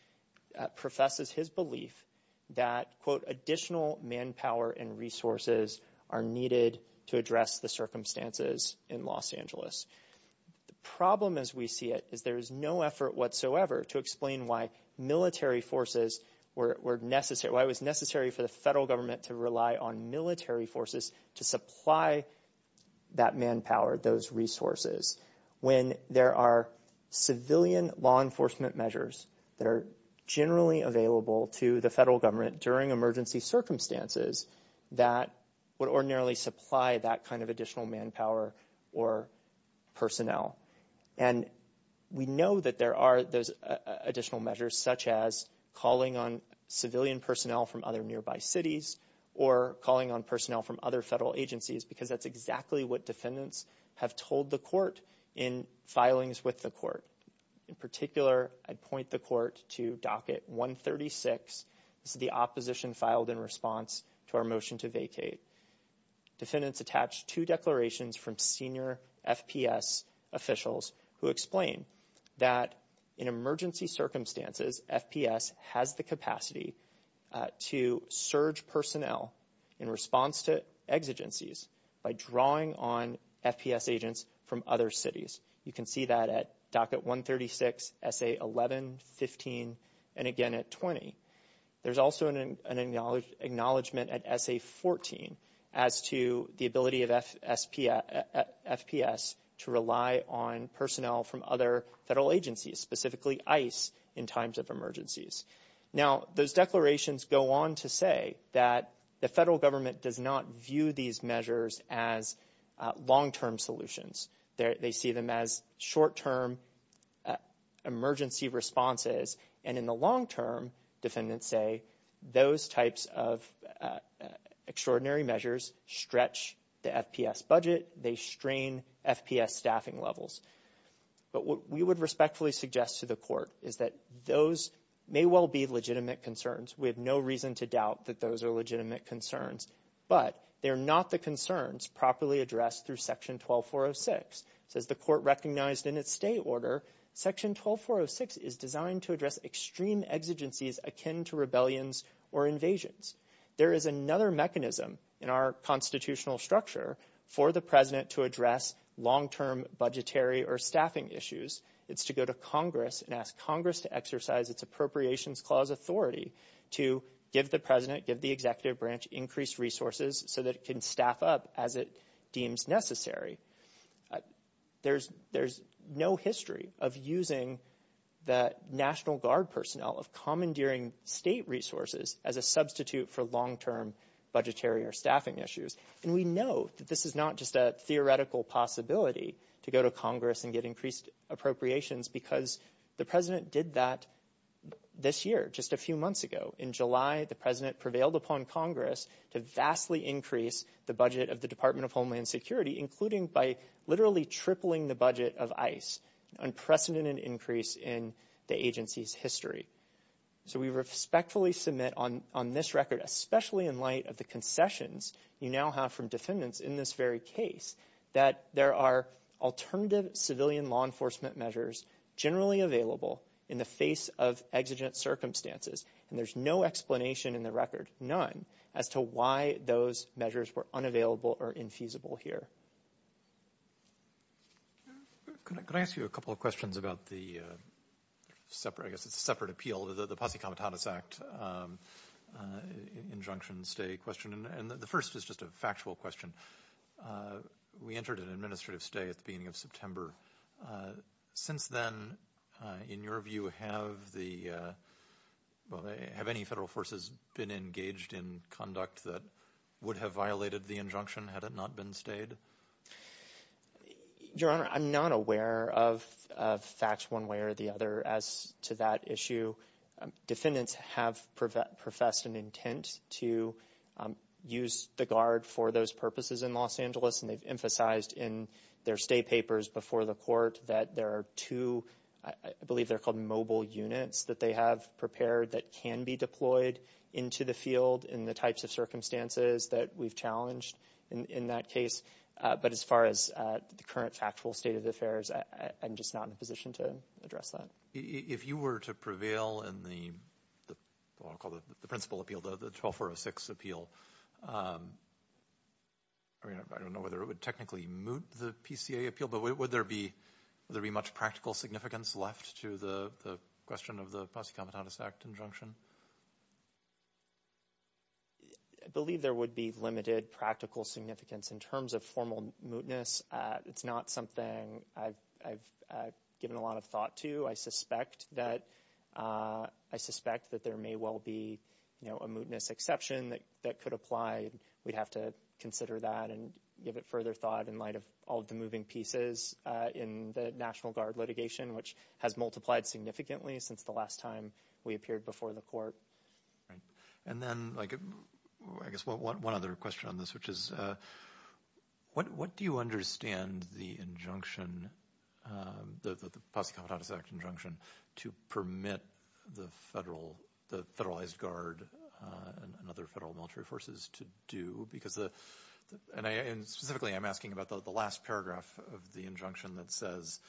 professes his belief that, quote, additional manpower and resources are needed to address the circumstances in Los Angeles. The problem as we see it is there's no effort whatsoever to explain why military forces were necessary, why it was necessary for the federal government to rely on military forces to supply that manpower, those resources. When there are civilian law enforcement measures that are generally available to the federal government during emergency circumstances that would ordinarily supply that kind of additional manpower or personnel. And we know that there are those additional measures such as calling on civilian personnel from other nearby cities or calling on personnel from other federal agencies because that's exactly what defendants have told the court in filings with the court. In particular, I point the court to docket 136, the opposition filed in response to our motion to vacate. Defendants attached two declarations from senior FPS officials who explain that in emergency by drawing on FPS agents from other cities. You can see that at docket 136, SA 11, 15, and again at 20. There's also an acknowledgement at SA 14 as to the ability of FPS to rely on personnel from other federal agencies, specifically ICE in times of emergencies. Now, those declarations go on to say that the federal government does not view these measures as long-term solutions. They see them as short-term emergency responses and in the long-term, defendants say those types of extraordinary measures stretch the FPS budget, they strain FPS staffing levels. But what we would respectfully suggest to the court is that those may well be legitimate concerns. We have no reason to doubt that those are legitimate concerns, but they're not the concerns properly addressed through section 12406. As the court recognized in its state order, section 12406 is designed to address extreme exigencies akin to rebellions or invasions. There is another mechanism in our constitutional structure for the president to address long-term budgetary or staffing issues. It's to go to Congress and ask Congress to exercise its appropriations clause authority to give the president, give the executive branch, increased resources so that it can staff up as it deems necessary. There's no history of using the National Guard personnel of commandeering state resources as a substitute for long-term budgetary or staffing issues. And we know that this is not just a theoretical possibility to go to Congress and get increased appropriations because the president did that this year, just a few months ago. In July, the president prevailed upon Congress to vastly increase the budget of the Department of Homeland Security, including by literally tripling the budget of ICE, unprecedented increase in the agency's history. So we respectfully submit on this record, especially in light of the concessions you now have from defendants in this very case, that there are alternative civilian law enforcement measures generally available in the face of exigent circumstances. And there's no explanation in the record, none, as to why those measures were unavailable or infeasible here. Can I ask you a couple of questions about the separate, I guess it's a separate appeal, the Posse Comitatus Act injunction stay question. And the first is just a factual question. We entered an administrative stay at the beginning of September. Since then, in your view, have the, well, have any federal forces been engaged in conduct that would have violated the injunction had it not been stayed? Your Honor, I'm not aware of facts one way or the other as to that issue. Defendants have professed an intent to use the guard for those purposes in Los Angeles, and they've emphasized in their stay papers before the court that there are two, I believe they're called mobile units, that they have prepared that can be deployed into the field in the types of circumstances that we've challenged in that case. But as far as the current factual state of affairs, I'm just not in a position to address that. If you were to prevail in the principle appeal, the 12406 appeal, I don't know whether it would technically moot the PCA appeal, but would there be much practical significance left to the question of the Posse Comitatus Act injunction? I believe there would be limited practical significance in terms of formal mootness. It's not something I've given a lot of thought to. I suspect that there may well be a mootness exception that could apply. We'd have to consider that and give it further thought in light of all the moving pieces in the National Guard litigation, which has multiplied significantly since the last time we appeared before the court. And then I guess one other question on this, which is what do you understand the injunction, the Posse Comitatus Injunction, to permit the Federalized Guard and other federal military forces to do? And specifically, I'm asking about the last paragraph of the injunction that says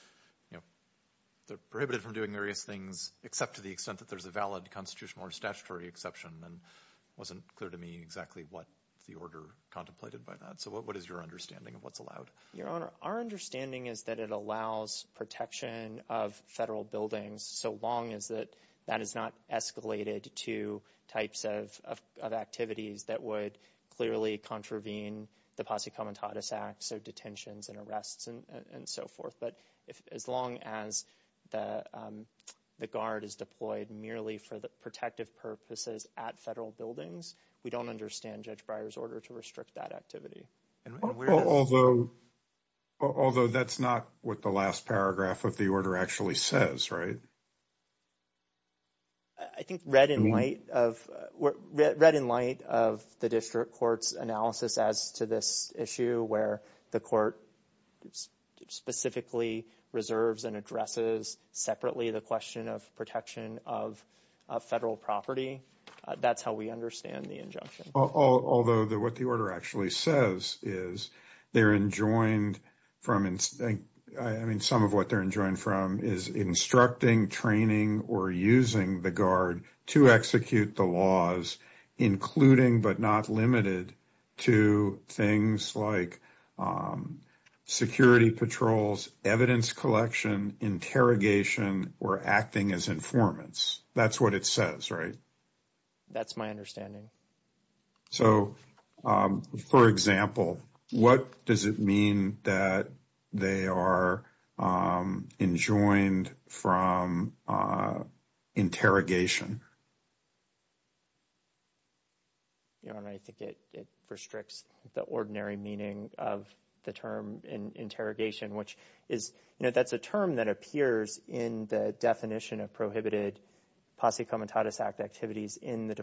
they're prohibited from doing various things, except to the extent that there's a valid constitutional or statutory exception. And it wasn't clear to me what the order contemplated by that. So what is your understanding of what's allowed? Your Honor, our understanding is that it allows protection of federal buildings, so long as that is not escalated to types of activities that would clearly contravene the Posse Comitatus Act, so detentions and arrests and so forth. But as long as the Guard is deployed merely for protective purposes at federal buildings, we don't understand Judge Breyer's order to restrict that activity. Although that's not what the last paragraph of the order actually says, right? I think read in light of the district court's analysis as to this issue, where the court specifically reserves and addresses separately the question of protection of federal property, that's how we understand the injunction. Although what the order actually says is they're enjoined from, I mean, some of what they're enjoined from is instructing, training, or using the Guard to execute the laws, including but not limited to things like security patrols, evidence collection, interrogation, or acting as informants. That's what it says, right? That's my understanding. So, for example, what does it mean that they are enjoined from interrogation? And I think it restricts the ordinary meaning of the term interrogation, which is, you know, that's a term that appears in the definition of prohibited Posse Comitatus Act activities in the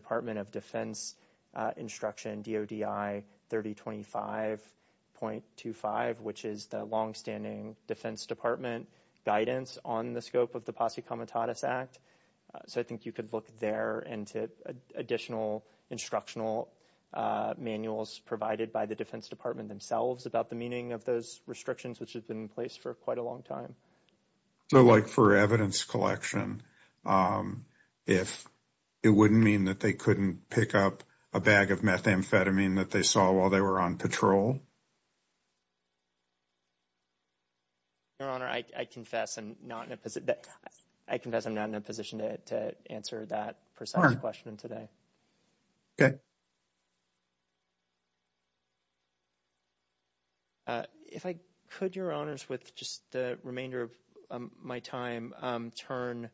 instruction DODI 3025.25, which is the longstanding Defense Department guidance on the scope of the Posse Comitatus Act. So, I think you could look there into additional instructional manuals provided by the Defense Department themselves about the meaning of those restrictions, which has been in place for quite a long time. So, like for evidence collection, if it wouldn't mean that they couldn't pick up a bag of methamphetamine that they saw while they were on patrol. Your Honor, I confess I'm not in a position to answer that precise question today. Okay. If I could, Your Honors, with just the remainder of my time, turn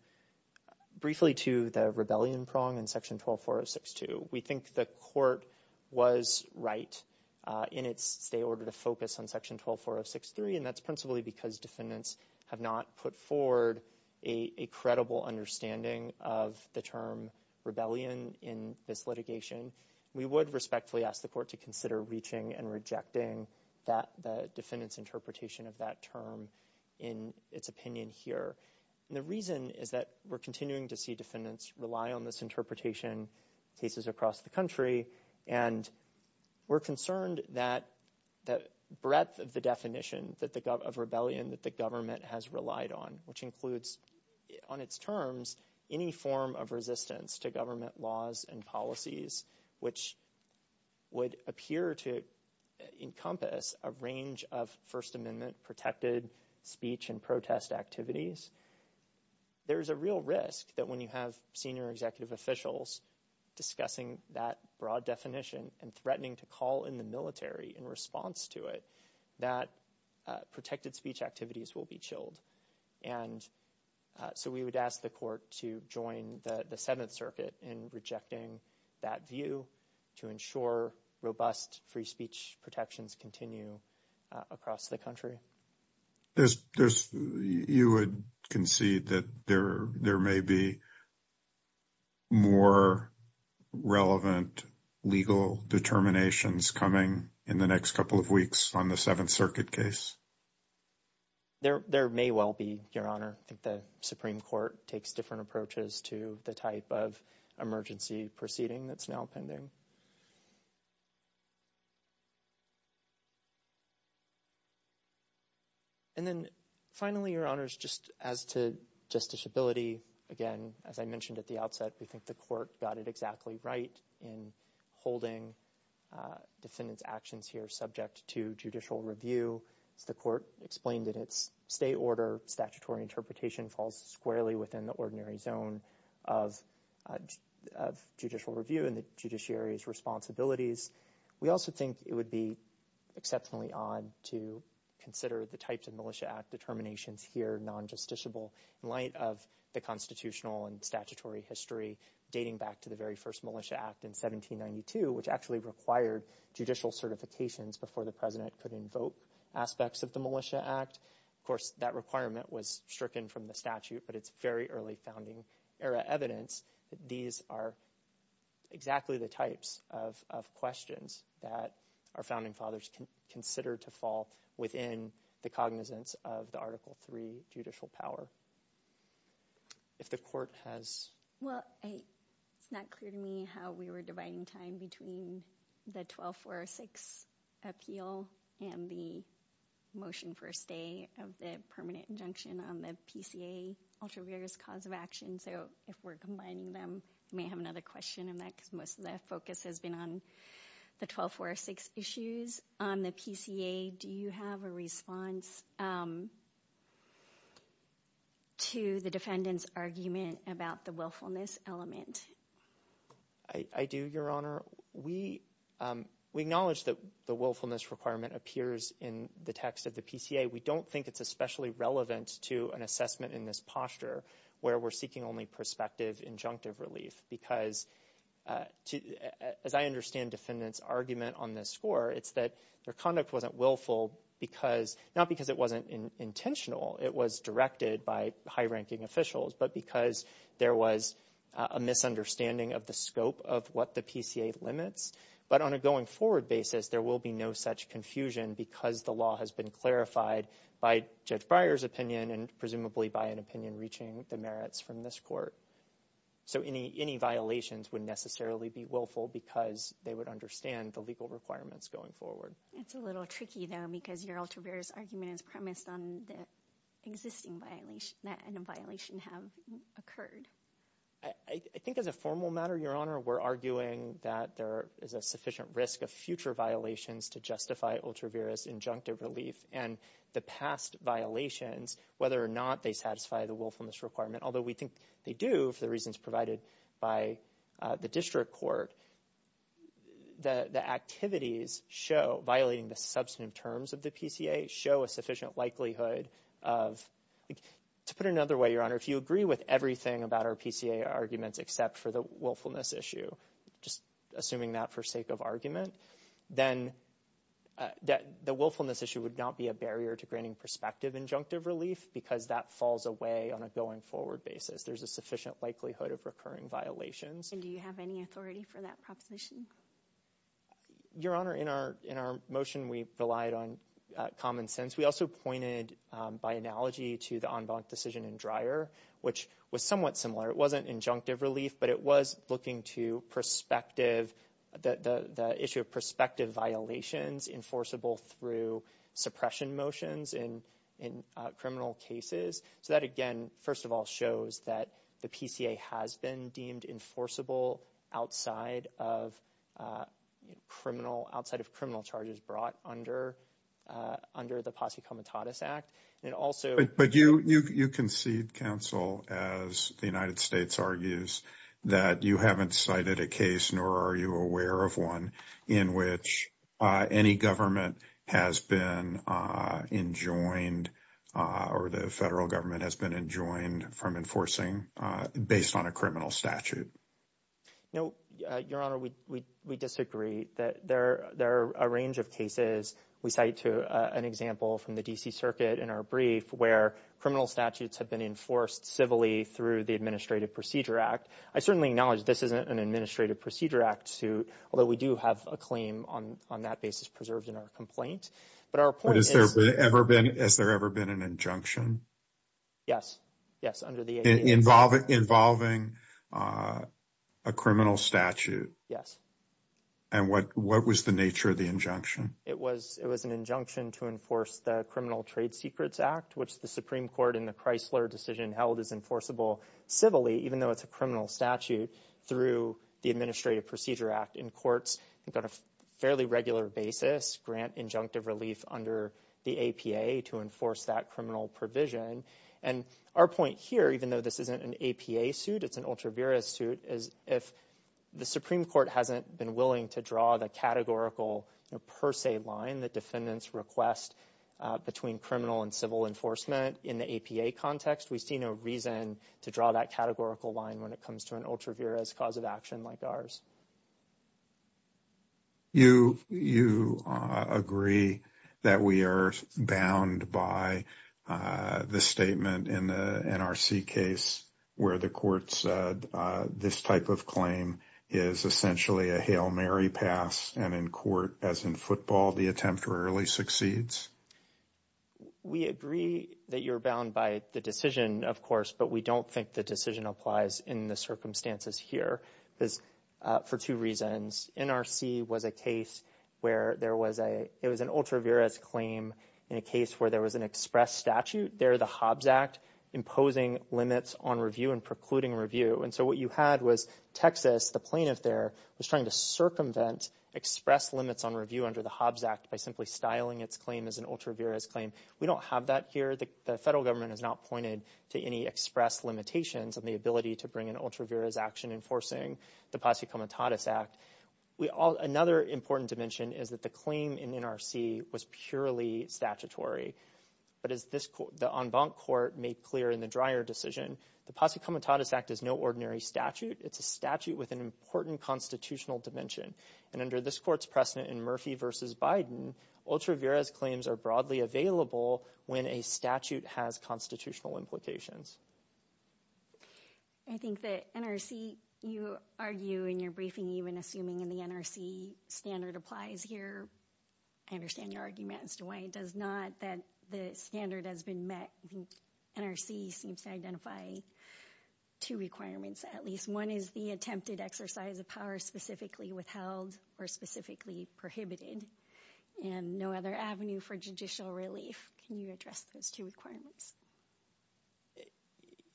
briefly to the rebellion prong in Section 124062. We think the court was right in its order to focus on Section 124063, and that's principally because defendants have not put forward a credible understanding of the term this litigation. We would respectfully ask the court to consider reaching and rejecting the defendant's interpretation of that term in its opinion here. The reason is that we're continuing to see defendants rely on this interpretation cases across the country, and we're concerned that the breadth of the definition of rebellion that the government has relied on, which includes on its terms any form of resistance to government laws and policies, which would appear to encompass a range of First Amendment protected speech and protest activities. There's a real risk that when you have senior executive officials discussing that broad definition and threatening to call in the military in response to it, that protected speech activities will be chilled. We would ask the court to join the Seventh Circuit in rejecting that view to ensure robust free speech protections continue across the country. You would concede that there may be more relevant legal determinations coming in the next couple of weeks on the there may well be, Your Honor. I think the Supreme Court takes different approaches to the type of emergency proceeding that's now pending. And then finally, Your Honors, just as to justiciability, again, as I mentioned at the outset, we think the court got it exactly right in holding defendant's actions here subject to judicial review. The court explained that its state order statutory interpretation falls squarely within the ordinary zone of judicial review and the judiciary's responsibilities. We also think it would be exceptionally odd to consider the types of Militia Act determinations here non-justiciable in light of the constitutional and statutory history dating back to the very first Militia Act in 1792, which actually required judicial certifications before the president could invoke aspects of the Militia Act. Of course, that requirement was stricken from the statute, but it's very early founding era evidence that these are exactly the types of questions that our founding fathers considered to fall within the cognizance of the Article III judicial power. If the court has... Well, it's not clear to me how we were dividing time between the 12406 appeal and the motion for a stay of the permanent injunction on the PCA ulterior cause of action. So if we're combining them, we may have another question in that most of the focus has been on the 12406 issues. On the PCA, do you have a response? To the defendant's argument about the willfulness element? I do, Your Honor. We acknowledge that the willfulness requirement appears in the text of the PCA. We don't think it's especially relevant to an assessment in this posture where we're seeking only prospective injunctive relief because, as I understand defendant's argument on this score, it's that their conduct wasn't willful because... Not because it wasn't intentional. It was directed by high-ranking officials, but because there was a misunderstanding of the scope of what the PCA limits. But on a going forward basis, there will be no such confusion because the law has been clarified by Judge Breyer's opinion and presumably by an opinion reaching the merits from this court. So any violations would necessarily be willful because they would understand the legal requirements going forward. It's a little tricky, though, because your ultraviarious argument is premised on the existing violation that a violation has occurred. I think as a formal matter, Your Honor, we're arguing that there is a sufficient risk of future violations to justify ultraviarious injunctive relief and the past violations, whether or not they satisfy the willfulness requirement, although we think they do for reasons provided by the district court, the activities show, violating the substantive terms of the PCA, show a sufficient likelihood of... To put it another way, Your Honor, if you agree with everything about our PCA arguments except for the willfulness issue, just assuming that for sake of argument, then the willfulness issue would not be a barrier to granting prospective injunctive relief because that falls away on a going forward basis. There's a sufficient likelihood of recurring violations. And do you have any authority for that proposition? Your Honor, in our motion, we relied on common sense. We also pointed by analogy to the en banc decision in Dreyer, which was somewhat similar. It wasn't injunctive relief, but it was looking to perspective, the issue of perspective violations enforceable through suppression motions in criminal cases. So that, again, first of all shows that the PCA has been deemed enforceable outside of criminal charges brought under the Posse Comitatus Act. And also... But you concede, counsel, as the United States argues, that you haven't cited a case, nor are you aware of one in which any government has been enjoined or the federal government has been enjoined from enforcing based on a criminal statute. No, Your Honor, we disagree. There are a range of cases we cite to an example from the DC circuit in our brief where criminal statutes have been enforced civilly through the Administrative Procedure Act. I certainly acknowledge this isn't an Administrative Procedure Act suit, although we do have a claim on that basis preserved in our complaint. But our point is... Has there ever been an injunction? Yes. Yes, under the... Involving a criminal statute? Yes. And what was the nature of the injunction? It was an injunction to enforce the Criminal Trade Secrets Act, which the Supreme Court in the Chrysler decision held is enforceable civilly, even though it's a criminal statute, through the Administrative Procedure Act in courts that on a fairly regular basis grant injunctive relief under the APA to enforce that criminal provision. And our point here, even though this isn't an APA suit, it's an Ultra Vira suit, is if the Supreme Court hasn't been willing to draw the categorical per se line, the defendant's request between criminal and civil enforcement in the APA context, we see no reason to draw that categorical line when it comes to an Ultra Vira's cause of action like ours. You agree that we are bound by the statement in the NRC case where the court said this type of claim is essentially a Hail Mary pass, and in court, as in football, the attempt rarely succeeds? We agree that you're bound by the decision, of course, but we don't think the decision applies in the circumstances here for two reasons. NRC was a case where there was a... It was an Ultra Vira's claim in a case where there was an express statute there, the Hobbs Act, imposing limits on review and precluding review. And so what you had was Texas, the plaintiff there, was trying to circumvent express limits on review under the Hobbs Act by simply styling its claim as an Ultra Vira's claim. We don't have that here. The federal government has not pointed to any express limitations on the ability to bring an Ultra Vira's action enforcing the Posse Comitatus Act. Another important dimension is that the claim in NRC was purely statutory, but as the en banc court made clear in the Dreyer decision, the Posse Comitatus Act is no ordinary statute. It's a statute with an important constitutional dimension, and under this court's precedent in Murphy v. Biden, Ultra Vira's claims are broadly available when a statute has constitutional implications. I think that NRC, you argue in your briefing, even assuming the NRC standard applies here, I understand your argument as do I, does not that the standard has been met, the NRC seems to identify two requirements at least. One is the attempted exercise of power specifically withheld or specifically prohibited, and no other avenue for judicial relief. Can you address those two requirements?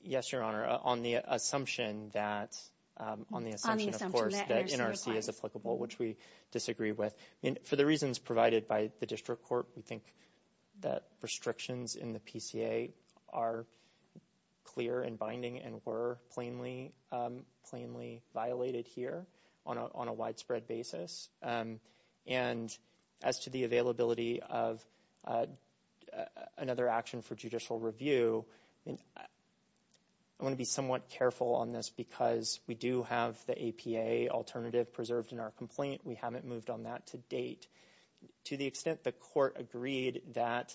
Yes, Your Honor. On the assumption that NRC is applicable, which we disagree with, for the reasons provided by the district court, we think that restrictions in the PCA are clear and binding and were plainly violated here on a widespread basis, and as to the availability of another action for judicial review, I want to be somewhat careful on this because we do have the APA alternative preserved in our document. We haven't moved on that to date. To the extent the court agreed that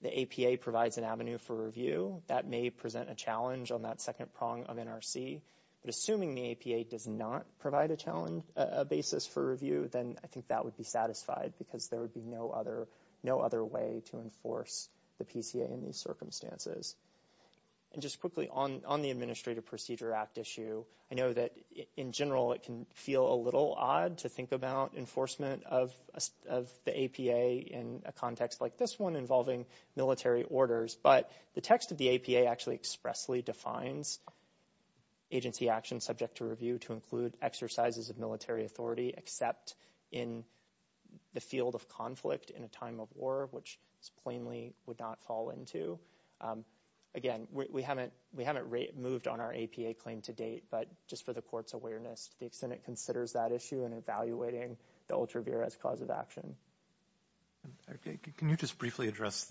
the APA provides an avenue for review, that may present a challenge on that second prong of NRC, but assuming the APA does not provide a challenge, a basis for review, then I think that would be satisfied because there would be no other way to enforce the PCA in these circumstances. And just quickly on the Administrative Procedure Act issue, I know that in general it can feel a little odd to think about enforcement of the APA in a context like this one involving military orders, but the text of the APA actually expressly defines agency action subject to review to include exercises of military authority except in the field of conflict in a time of war, which plainly would not fall into. Again, we haven't moved on our APA claim to date, but just for the court's awareness, the extent it considers that issue and evaluating the ultra-virous cause of action. Okay, can you just briefly address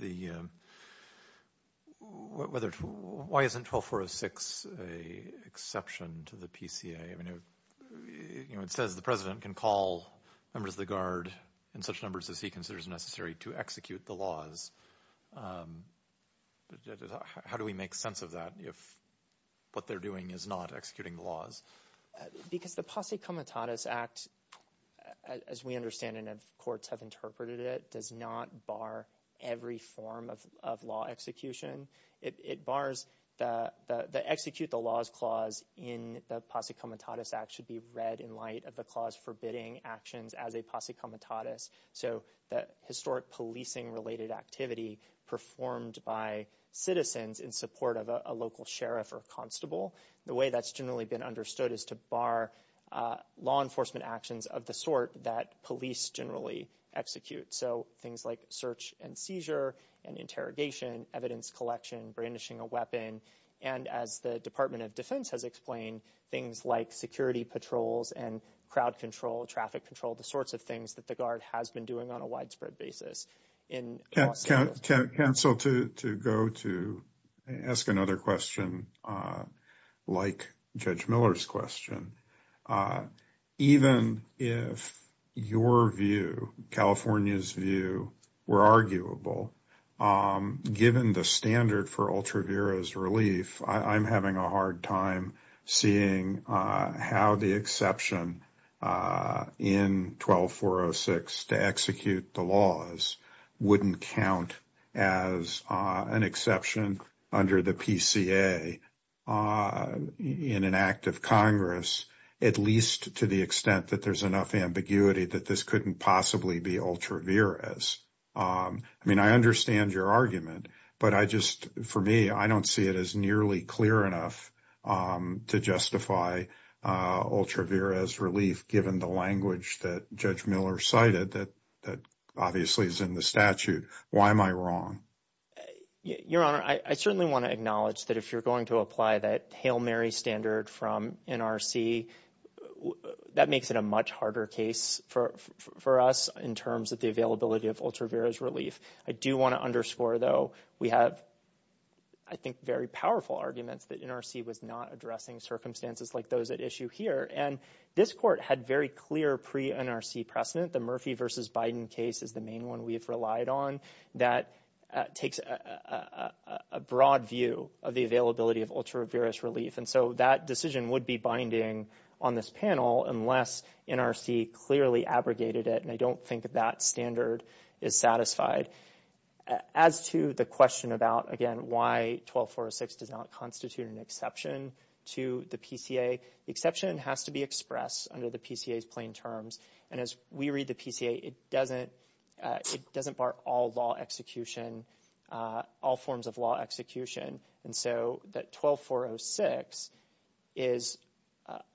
why isn't 12406 an exception to the PCA? It says the President can call members of the Guard in such numbers as he considers necessary to execute the laws. How do we make sense of that if what they're doing is not executing laws? Because the Posse Comitatus Act, as we understand and as courts have interpreted it, does not bar every form of law execution. It bars the execute the laws clause in the Posse Comitatus Act should be read in light of the clause forbidding actions as a Posse Comitatus. So the historic policing-related activity performed by citizens in support of a local sheriff or constable, the way that's generally been understood is to bar law enforcement actions of the sort that police generally execute. So things like search and seizure and interrogation, evidence collection, brandishing a weapon, and as the Department of Defense has explained, things like security patrols and crowd control, traffic control, the sorts of things that the Department of Defense has been doing on a widespread basis. Can I cancel to go to ask another question like Judge Miller's question? Even if your view, California's view, were arguable, given the standard for Ultra Vira's relief, I'm having a hard time seeing how the exception in 12406 to execute the laws wouldn't count as an exception under the PCA in an act of Congress, at least to the extent that there's enough ambiguity that this couldn't possibly be Ultra Vira's. I mean, I understand your argument, but I just, for me, I don't see it as nearly clear enough to justify Ultra Vira's relief given the language that Judge Miller cited that obviously is in the statute. Why am I wrong? Your Honor, I certainly want to acknowledge that if you're going to apply that Hail Mary standard from NRC, that makes it a much harder case for us in terms of the availability of Ultra Vira's relief. I do want to underscore, we have, I think, very powerful arguments that NRC was not addressing circumstances like those at issue here, and this court had very clear pre-NRC precedent. The Murphy versus Biden case is the main one we've relied on that takes a broad view of the availability of Ultra Vira's relief, and so that decision would be binding on this panel unless NRC clearly abrogated it, and I don't think that standard is satisfied. As to the question about, again, why 12406 does not constitute an exception to the PCA, the exception has to be expressed under the PCA's plain terms, and as we read the PCA, it doesn't bar all law execution, all forms of law execution, and so that 12406 is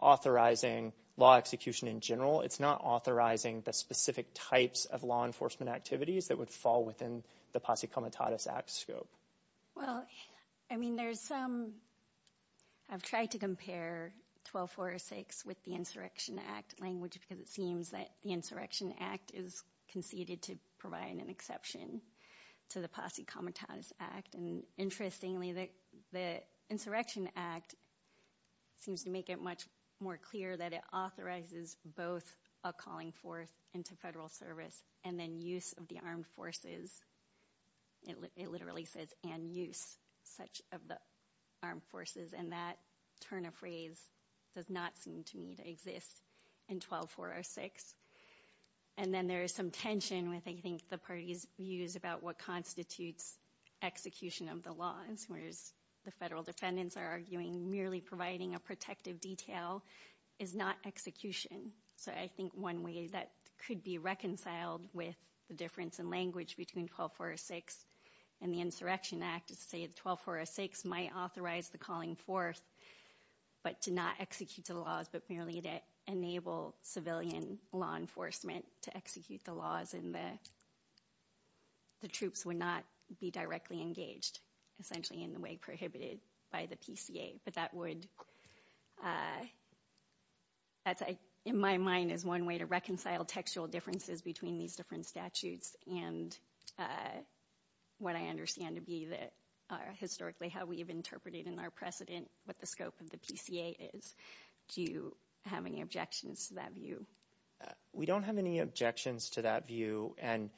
authorizing law execution in general. It's not authorizing the specific types of law enforcement activities that would fall within the Posse Comitatus Act scope. Well, I mean, there's some, I've tried to compare 12406 with the Insurrection Act language because it seems that the Insurrection Act is conceded to provide an exception to the Posse Comitatus Act, and interestingly, the Insurrection Act seems to make it much more clear that it authorizes both a calling forth into federal service and then use of the armed forces. It literally says, and use such of the armed forces, and that turn of phrase does not exist in 12406, and then there is some tension with, I think, the parties' views about what constitutes execution of the laws, whereas the federal defendants are arguing merely providing a protective detail is not execution, so I think one way that could be reconciled with the difference in language between 12406 and the Insurrection Act is to say that 12406 might authorize the force, but to not execute the laws, but merely to enable civilian law enforcement to execute the laws and that the troops would not be directly engaged, essentially, in the way prohibited by the PCA, but that would, that's, in my mind, is one way to reconcile textual differences between these different statutes and what I understand to be that are historically how we've interpreted in our precedent what the scope of the PCA is. Do you have any objections to that view? We don't have any objections to that view, and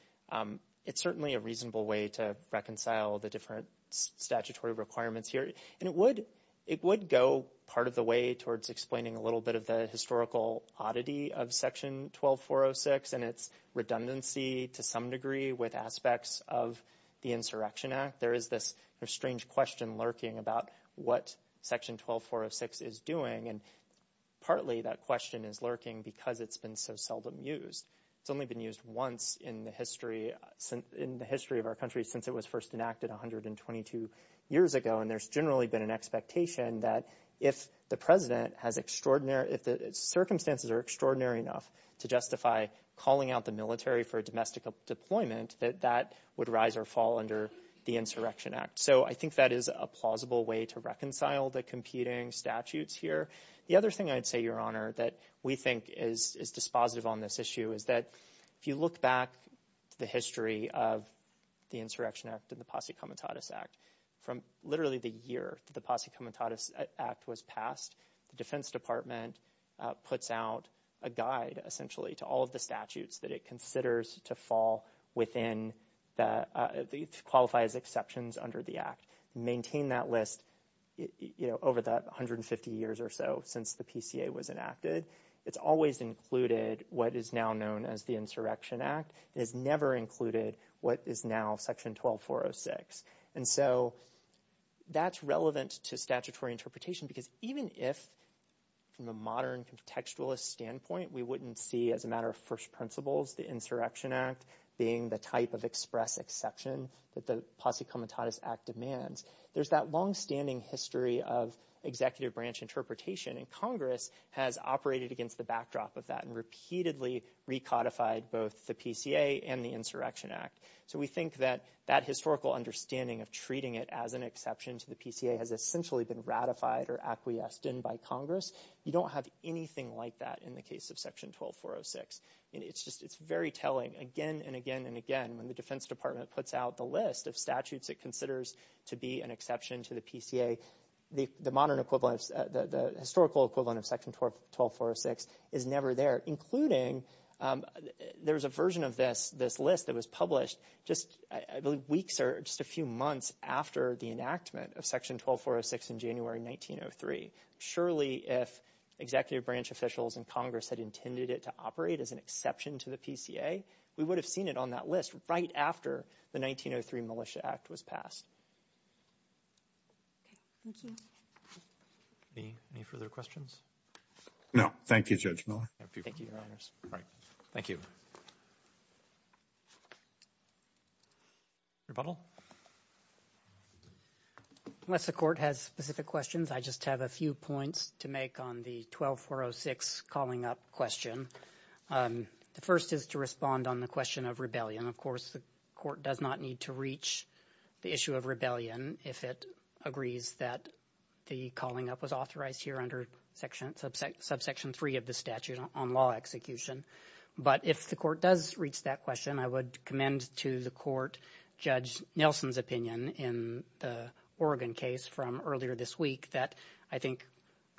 it's certainly a reasonable way to reconcile the different statutory requirements here, and it would go part of the way towards explaining a little bit of the historical oddity of section 12406 and its redundancy to some degree with aspects of the Insurrection Act. There is this strange question lurking about what section 12406 is doing, and partly that question is lurking because it's been so seldom used. It's only been used once in the history of our country since it was first enacted 122 years ago, and there's generally been an expectation that if the President has extraordinary, if the circumstances are extraordinary enough to justify calling out the military for a domestic deployment, that that would rise or fall under the Insurrection Act, so I think that is a plausible way to reconcile the competing statutes here. The other thing I'd say, Your Honor, that we think is dispositive on this issue is that if you look back the history of the Insurrection Act and the Posse Comitatus Act, from literally the year the Posse Comitatus Act was passed, the Defense Department puts out a guide essentially to all of the statutes that it considers to fall within, to qualify as exceptions under the Act, maintain that list, you know, over that 150 years or so since the PCA was enacted. It's always included what is now known as the Insurrection Act. It's never included what is now section 12406, and so that's relevant to statutory interpretation because even if, from a modern contextualist standpoint, we wouldn't see as a matter of first principles the Insurrection Act being the type of express exception that the Posse Comitatus Act demands, there's that long-standing history of executive branch interpretation, and Congress has operated against the backdrop of that and repeatedly recodified both the PCA and the Insurrection Act. So we think that that historical understanding of treating it as an exception to the PCA has essentially been ratified or acquiesced in by Congress. You don't have anything like that in the case of section 12406, and it's just, it's very telling again and again and again when the Defense Department puts out the list of statutes it considers to be an exception to the PCA. The modern equivalence, the historical equivalent of section 12406 is never there, including there's a version of this list that was published just weeks or just a few months after the enactment of section 12406 in January 1903. Surely if executive branch officials and Congress had intended it to operate as an exception to the PCA, we would have seen it on that list right after the 1903 Militia Act was passed. Thank you. Any further questions? No. Thank you, Judge Miller. Thank you. Rebuttal? Unless the court has specific questions, I just have a few points to make on the 12406 calling up question. The first is to respond on the question of rebellion. Of course, the court does not need to reach the issue of rebellion if it agrees that the calling up was authorized here under section, subsection 3 of the statute on law execution. But if the court does reach that question, I would commend to the court Judge Nelson's opinion in the Oregon case from earlier this week that I think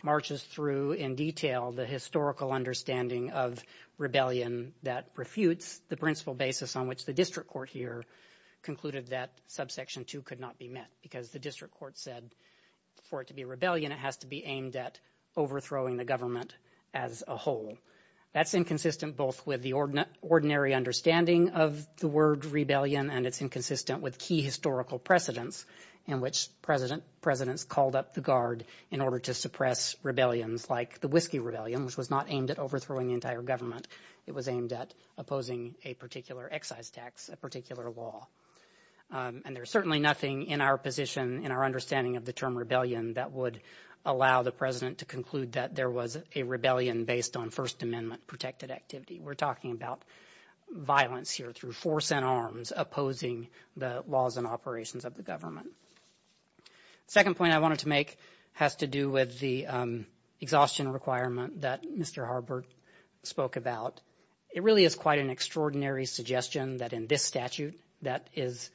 marches through in detail the historical understanding of rebellion that refutes the principle basis on which the district court here concluded that subsection 2 could not be met because the district court said for it to be rebellion, it has to be aimed at overthrowing the government as a whole. That's inconsistent both with the ordinary understanding of the word rebellion and it's inconsistent with key historical precedents in which presidents called up the guard in order to suppress rebellions like the Whiskey Rebellion, which was not aimed at overthrowing the entire government. It was aimed at opposing a particular excise tax, a particular law. And there's certainly nothing in our position, in our understanding of the term rebellion that would allow the president to conclude that there was a rebellion based on First Amendment protected activity. We're talking about violence here through force and arms opposing the laws and operations of the government. The second point I wanted to make has to do with the exhaustion requirement that Mr. Harbert spoke about. It really is quite an extraordinary suggestion that in this statute that is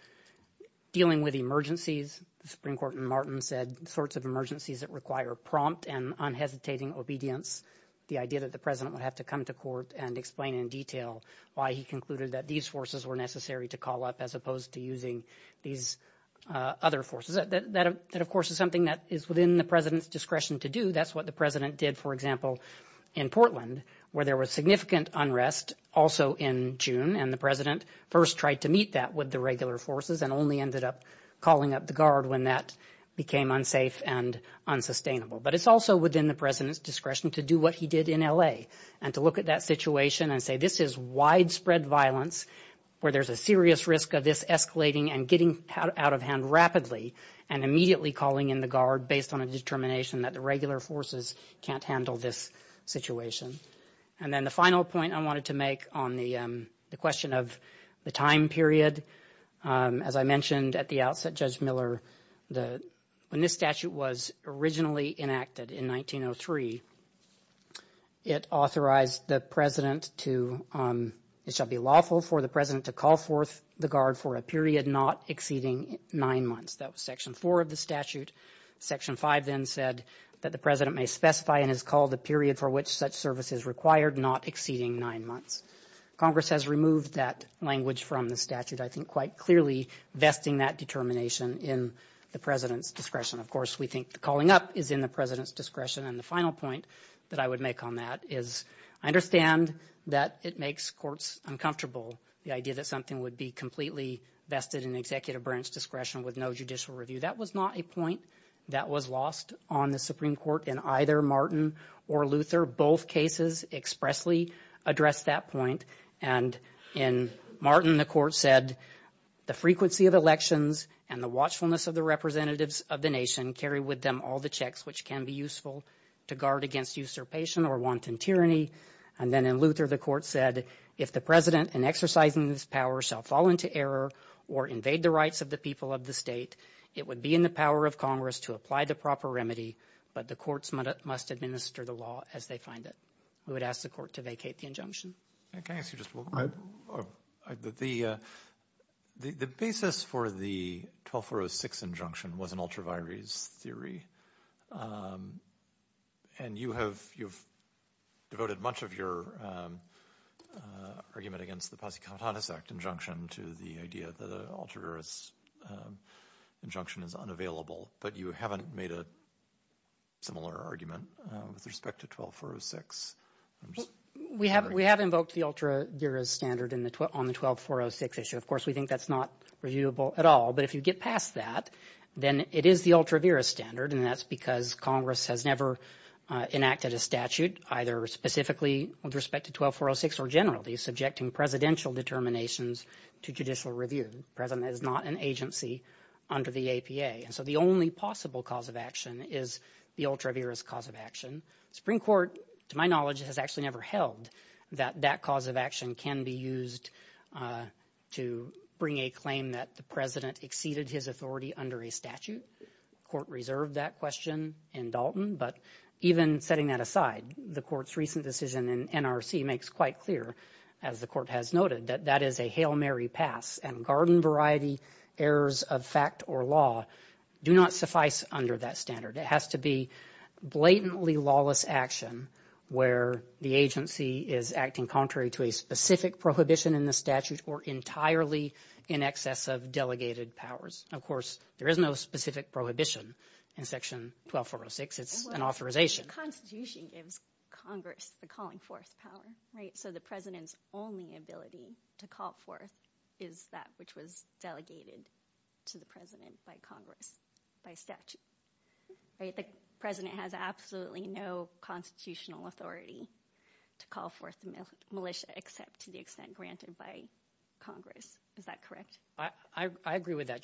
dealing with emergencies. The Supreme Court in Martin said sorts of emergencies that require prompt and unhesitating obedience. The idea that the president would have to come to court and explain in detail why he concluded that these forces were to call up as opposed to using these other forces. That of course is something that is within the president's discretion to do. That's what the president did, for example, in Portland where there was significant unrest also in June and the president first tried to meet that with the regular forces and only ended up calling up the guard when that became unsafe and unsustainable. But it's also within the president's discretion to do what he did in LA and to look at that situation and say this is widespread violence where there's a serious risk of this escalating and getting out of hand rapidly and immediately calling in the guard based on a determination that the regular forces can't handle this situation. And then the final point I wanted to make on the question of the time period. As I mentioned at the outset, Judge Miller, the, when this statute was originally enacted in 1903, it authorized the president to, it shall be lawful for the president to call forth the guard for a period not exceeding nine months. That was section four of the statute. Section five then said that the president may specify and has called the period for which such service is required not exceeding nine months. Congress has removed that language from the statute, I think quite clearly vesting that determination in the president's discretion. Of course, we think the calling up is in the president's discretion. And the final point that I would make on that is I understand that it makes courts uncomfortable. The idea that something would be completely vested in the executive branch discretion with no judicial review. That was not a point that was lost on the Supreme Court in either Martin or Luther. Both cases expressly addressed that point. And in Martin, the court said the frequency of elections and the watchfulness of the representatives of the nation carry with them all the checks which can be useful to guard against usurpation or wanton tyranny. And then in Luther, the court said, if the president and exercising this power shall fall into error or invade the rights of the people of the state, it would be in the power of Congress to apply the proper remedy, but the courts must administer the law as they find it. We would ask the court to vacate the injunction. Can I ask you just one? The basis for the 1206 injunction was an ultra virus theory. And you have devoted much of your argument against the Posse countenance act injunction to the idea that alters injunction is unavailable, but you haven't made a similar argument with respect to 12406. We haven't. We haven't built the ultra virus standard in the 12 on the 12406 issue. Of course, we think that's not reviewable at all. But if you get past that, then it is the ultra virus standard. And that's because Congress has never enacted a statute either specifically with respect to 12406 or generally subjecting presidential determinations to judicial review. President is not an agency under the APA, and so the only possible cause of action is the ultra virus cause of action. Supreme Court, to my knowledge, has actually never held that that cause of action can be used to bring a claim that the president exceeded his authority under a statute. Court reserved that question in Dalton, but even setting that aside, the court's recent decision in NRC makes quite clear, as the court has noted, that that is a Hail Mary pass, and garden variety errors of fact or law do not suffice under that standard. It has to be blatantly lawless action where the agency is acting contrary to a specific prohibition in the statute or entirely in excess of delegated powers. Of course, there is no specific prohibition in section 12406. It's an authorization. Constitution gives Congress the calling force power, right? So the president's only ability to call forth is that which was delegated to the president by Congress by statute. The president has absolutely no constitutional authority to call forth militia except to the extent granted by Congress. Is that correct? I agree with that.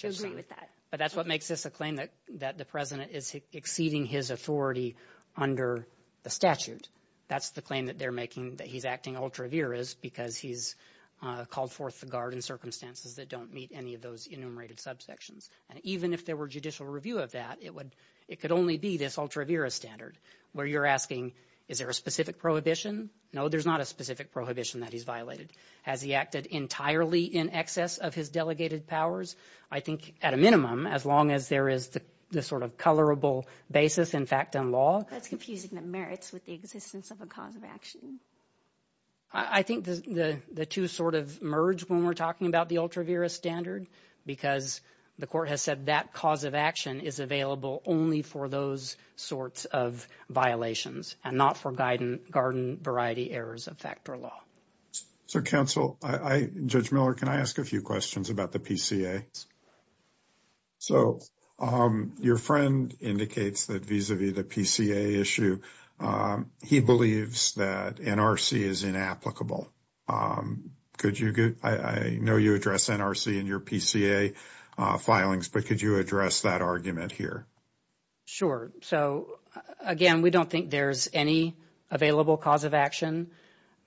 But that's what makes this claim that that the president is exceeding his authority under the statute. That's the claim that they're making that he's acting ultra virus because he's called forth to guard in circumstances that don't meet any of those enumerated subsections. And even if there were judicial review of that, it would it could only be this ultra virus standard where you're asking, is there a specific prohibition? No, there's not a specific prohibition that he's violated. Has he acted entirely in excess of his delegated powers? I think at a minimum, as long as there is the sort of colorable basis, in fact, on law. That's confusing the merits with the existence of a cause of action. I think the two sort of merge when we're talking about the ultra virus standard, because the court has said that cause of action is available only for those sorts of violations and not for garden variety errors of factor law. So counsel, Judge Miller, can I ask a few questions about the PCA? So your friend indicates that vis-a-vis the PCA issue, he believes that NRC is inapplicable. Could you give, I know you address NRC in your PCA filings, but could you that argument here? Sure. So again, we don't think there's any available cause of action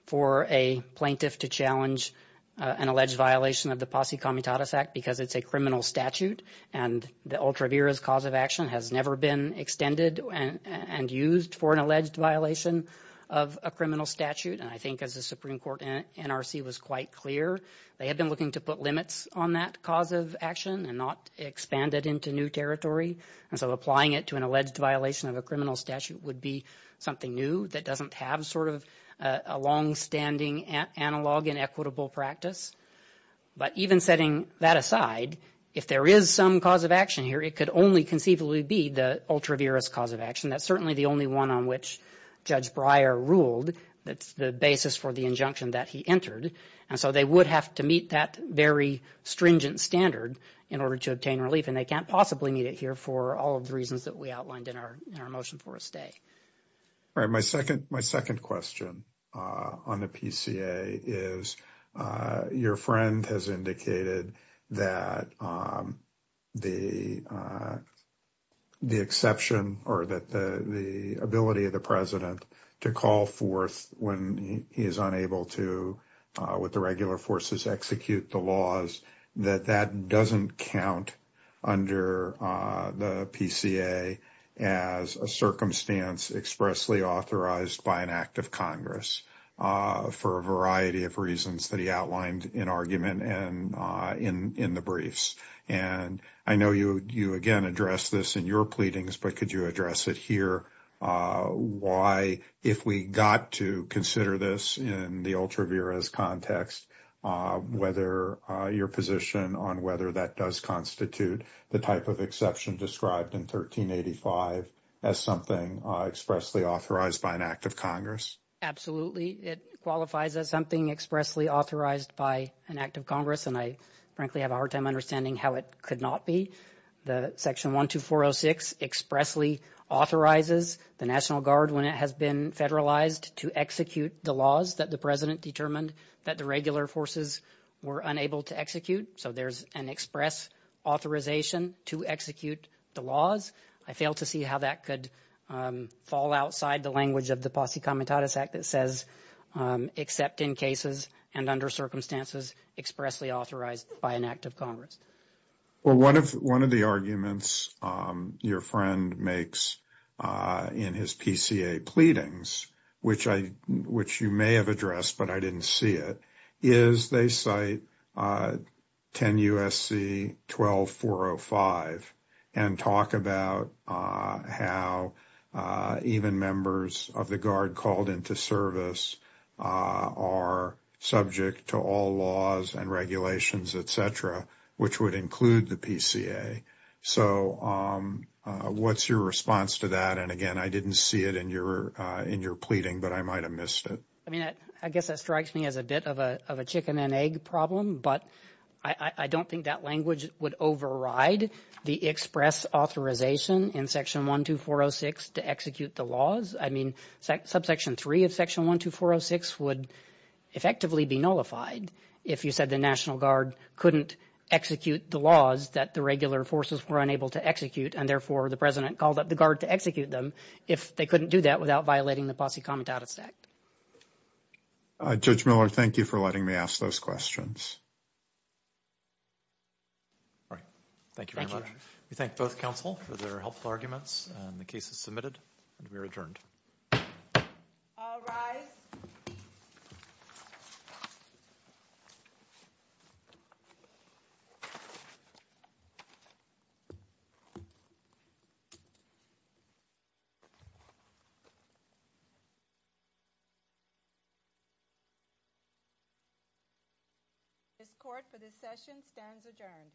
for a plaintiff to challenge an alleged violation of the Posse Comitatus Act because it's a criminal statute. And the ultra virus cause of action has never been extended and used for an alleged violation of a criminal statute. And I think as the Supreme Court NRC was quite clear, they had been looking to put limits on that cause of action and not expand it into new territory. And so applying it to an alleged violation of a criminal statute would be something new that doesn't have sort of a longstanding analog and equitable practice. But even setting that aside, if there is some cause of action here, it could only conceivably be the ultra virus cause of action. That's certainly the only one on which Judge Breyer ruled that's the basis for the to meet that very stringent standard in order to obtain relief. And they can't possibly meet it here for all of the reasons that we outlined in our motion for a stay. All right. My second question on the PCA is your friend has indicated that the exception or that the ability of the execute the laws that that doesn't count under the PCA as a circumstance expressly authorized by an act of Congress for a variety of reasons that he outlined in argument and in the briefs. And I know you again address this in your pleadings, but could you address it here? Why, if we got to consider this in the ultra virus context, whether your position on whether that does constitute the type of exception described in 1385 as something expressly authorized by an act of Congress? Absolutely. It qualifies as something expressly authorized by an act of Congress. And I frankly have a hard time understanding how it could not be the section 12406 expressly authorizes the National Guard when it has been federalized to execute the laws that the president determined that the regular forces were unable to execute. So there's an express authorization to execute the laws. I fail to see how that could fall outside the language of the Posse Comitatus Act that says except in cases and under circumstances expressly authorized by an act of Congress. Well, one of the arguments your friend makes in his PCA pleadings, which you may have addressed, but I didn't see it, is they cite 10 U.S.C. 12405 and talk about how even members of the Guard called into service are subject to all laws and regulations, et cetera, which would include the PCA. So what's your response to that? And again, I didn't see it in your pleading, but I might have missed it. I mean, I guess that strikes me as a bit of a chicken and egg problem, but I don't think that language would override the express authorization in section 12406 to execute the laws. I mean, subsection three of section 12406 would effectively be nullified if you said the National Guard couldn't execute the laws that the regular forces were unable to execute and therefore the president called up the Guard to execute them if they couldn't do that without violating the Posse Comitatus Act. Judge Miller, thank you for letting me ask those questions. All right. Thank you very much. We thank both counsel for their helpful arguments and the case is submitted and we are adjourned. All rise. This court for this session stands adjourned.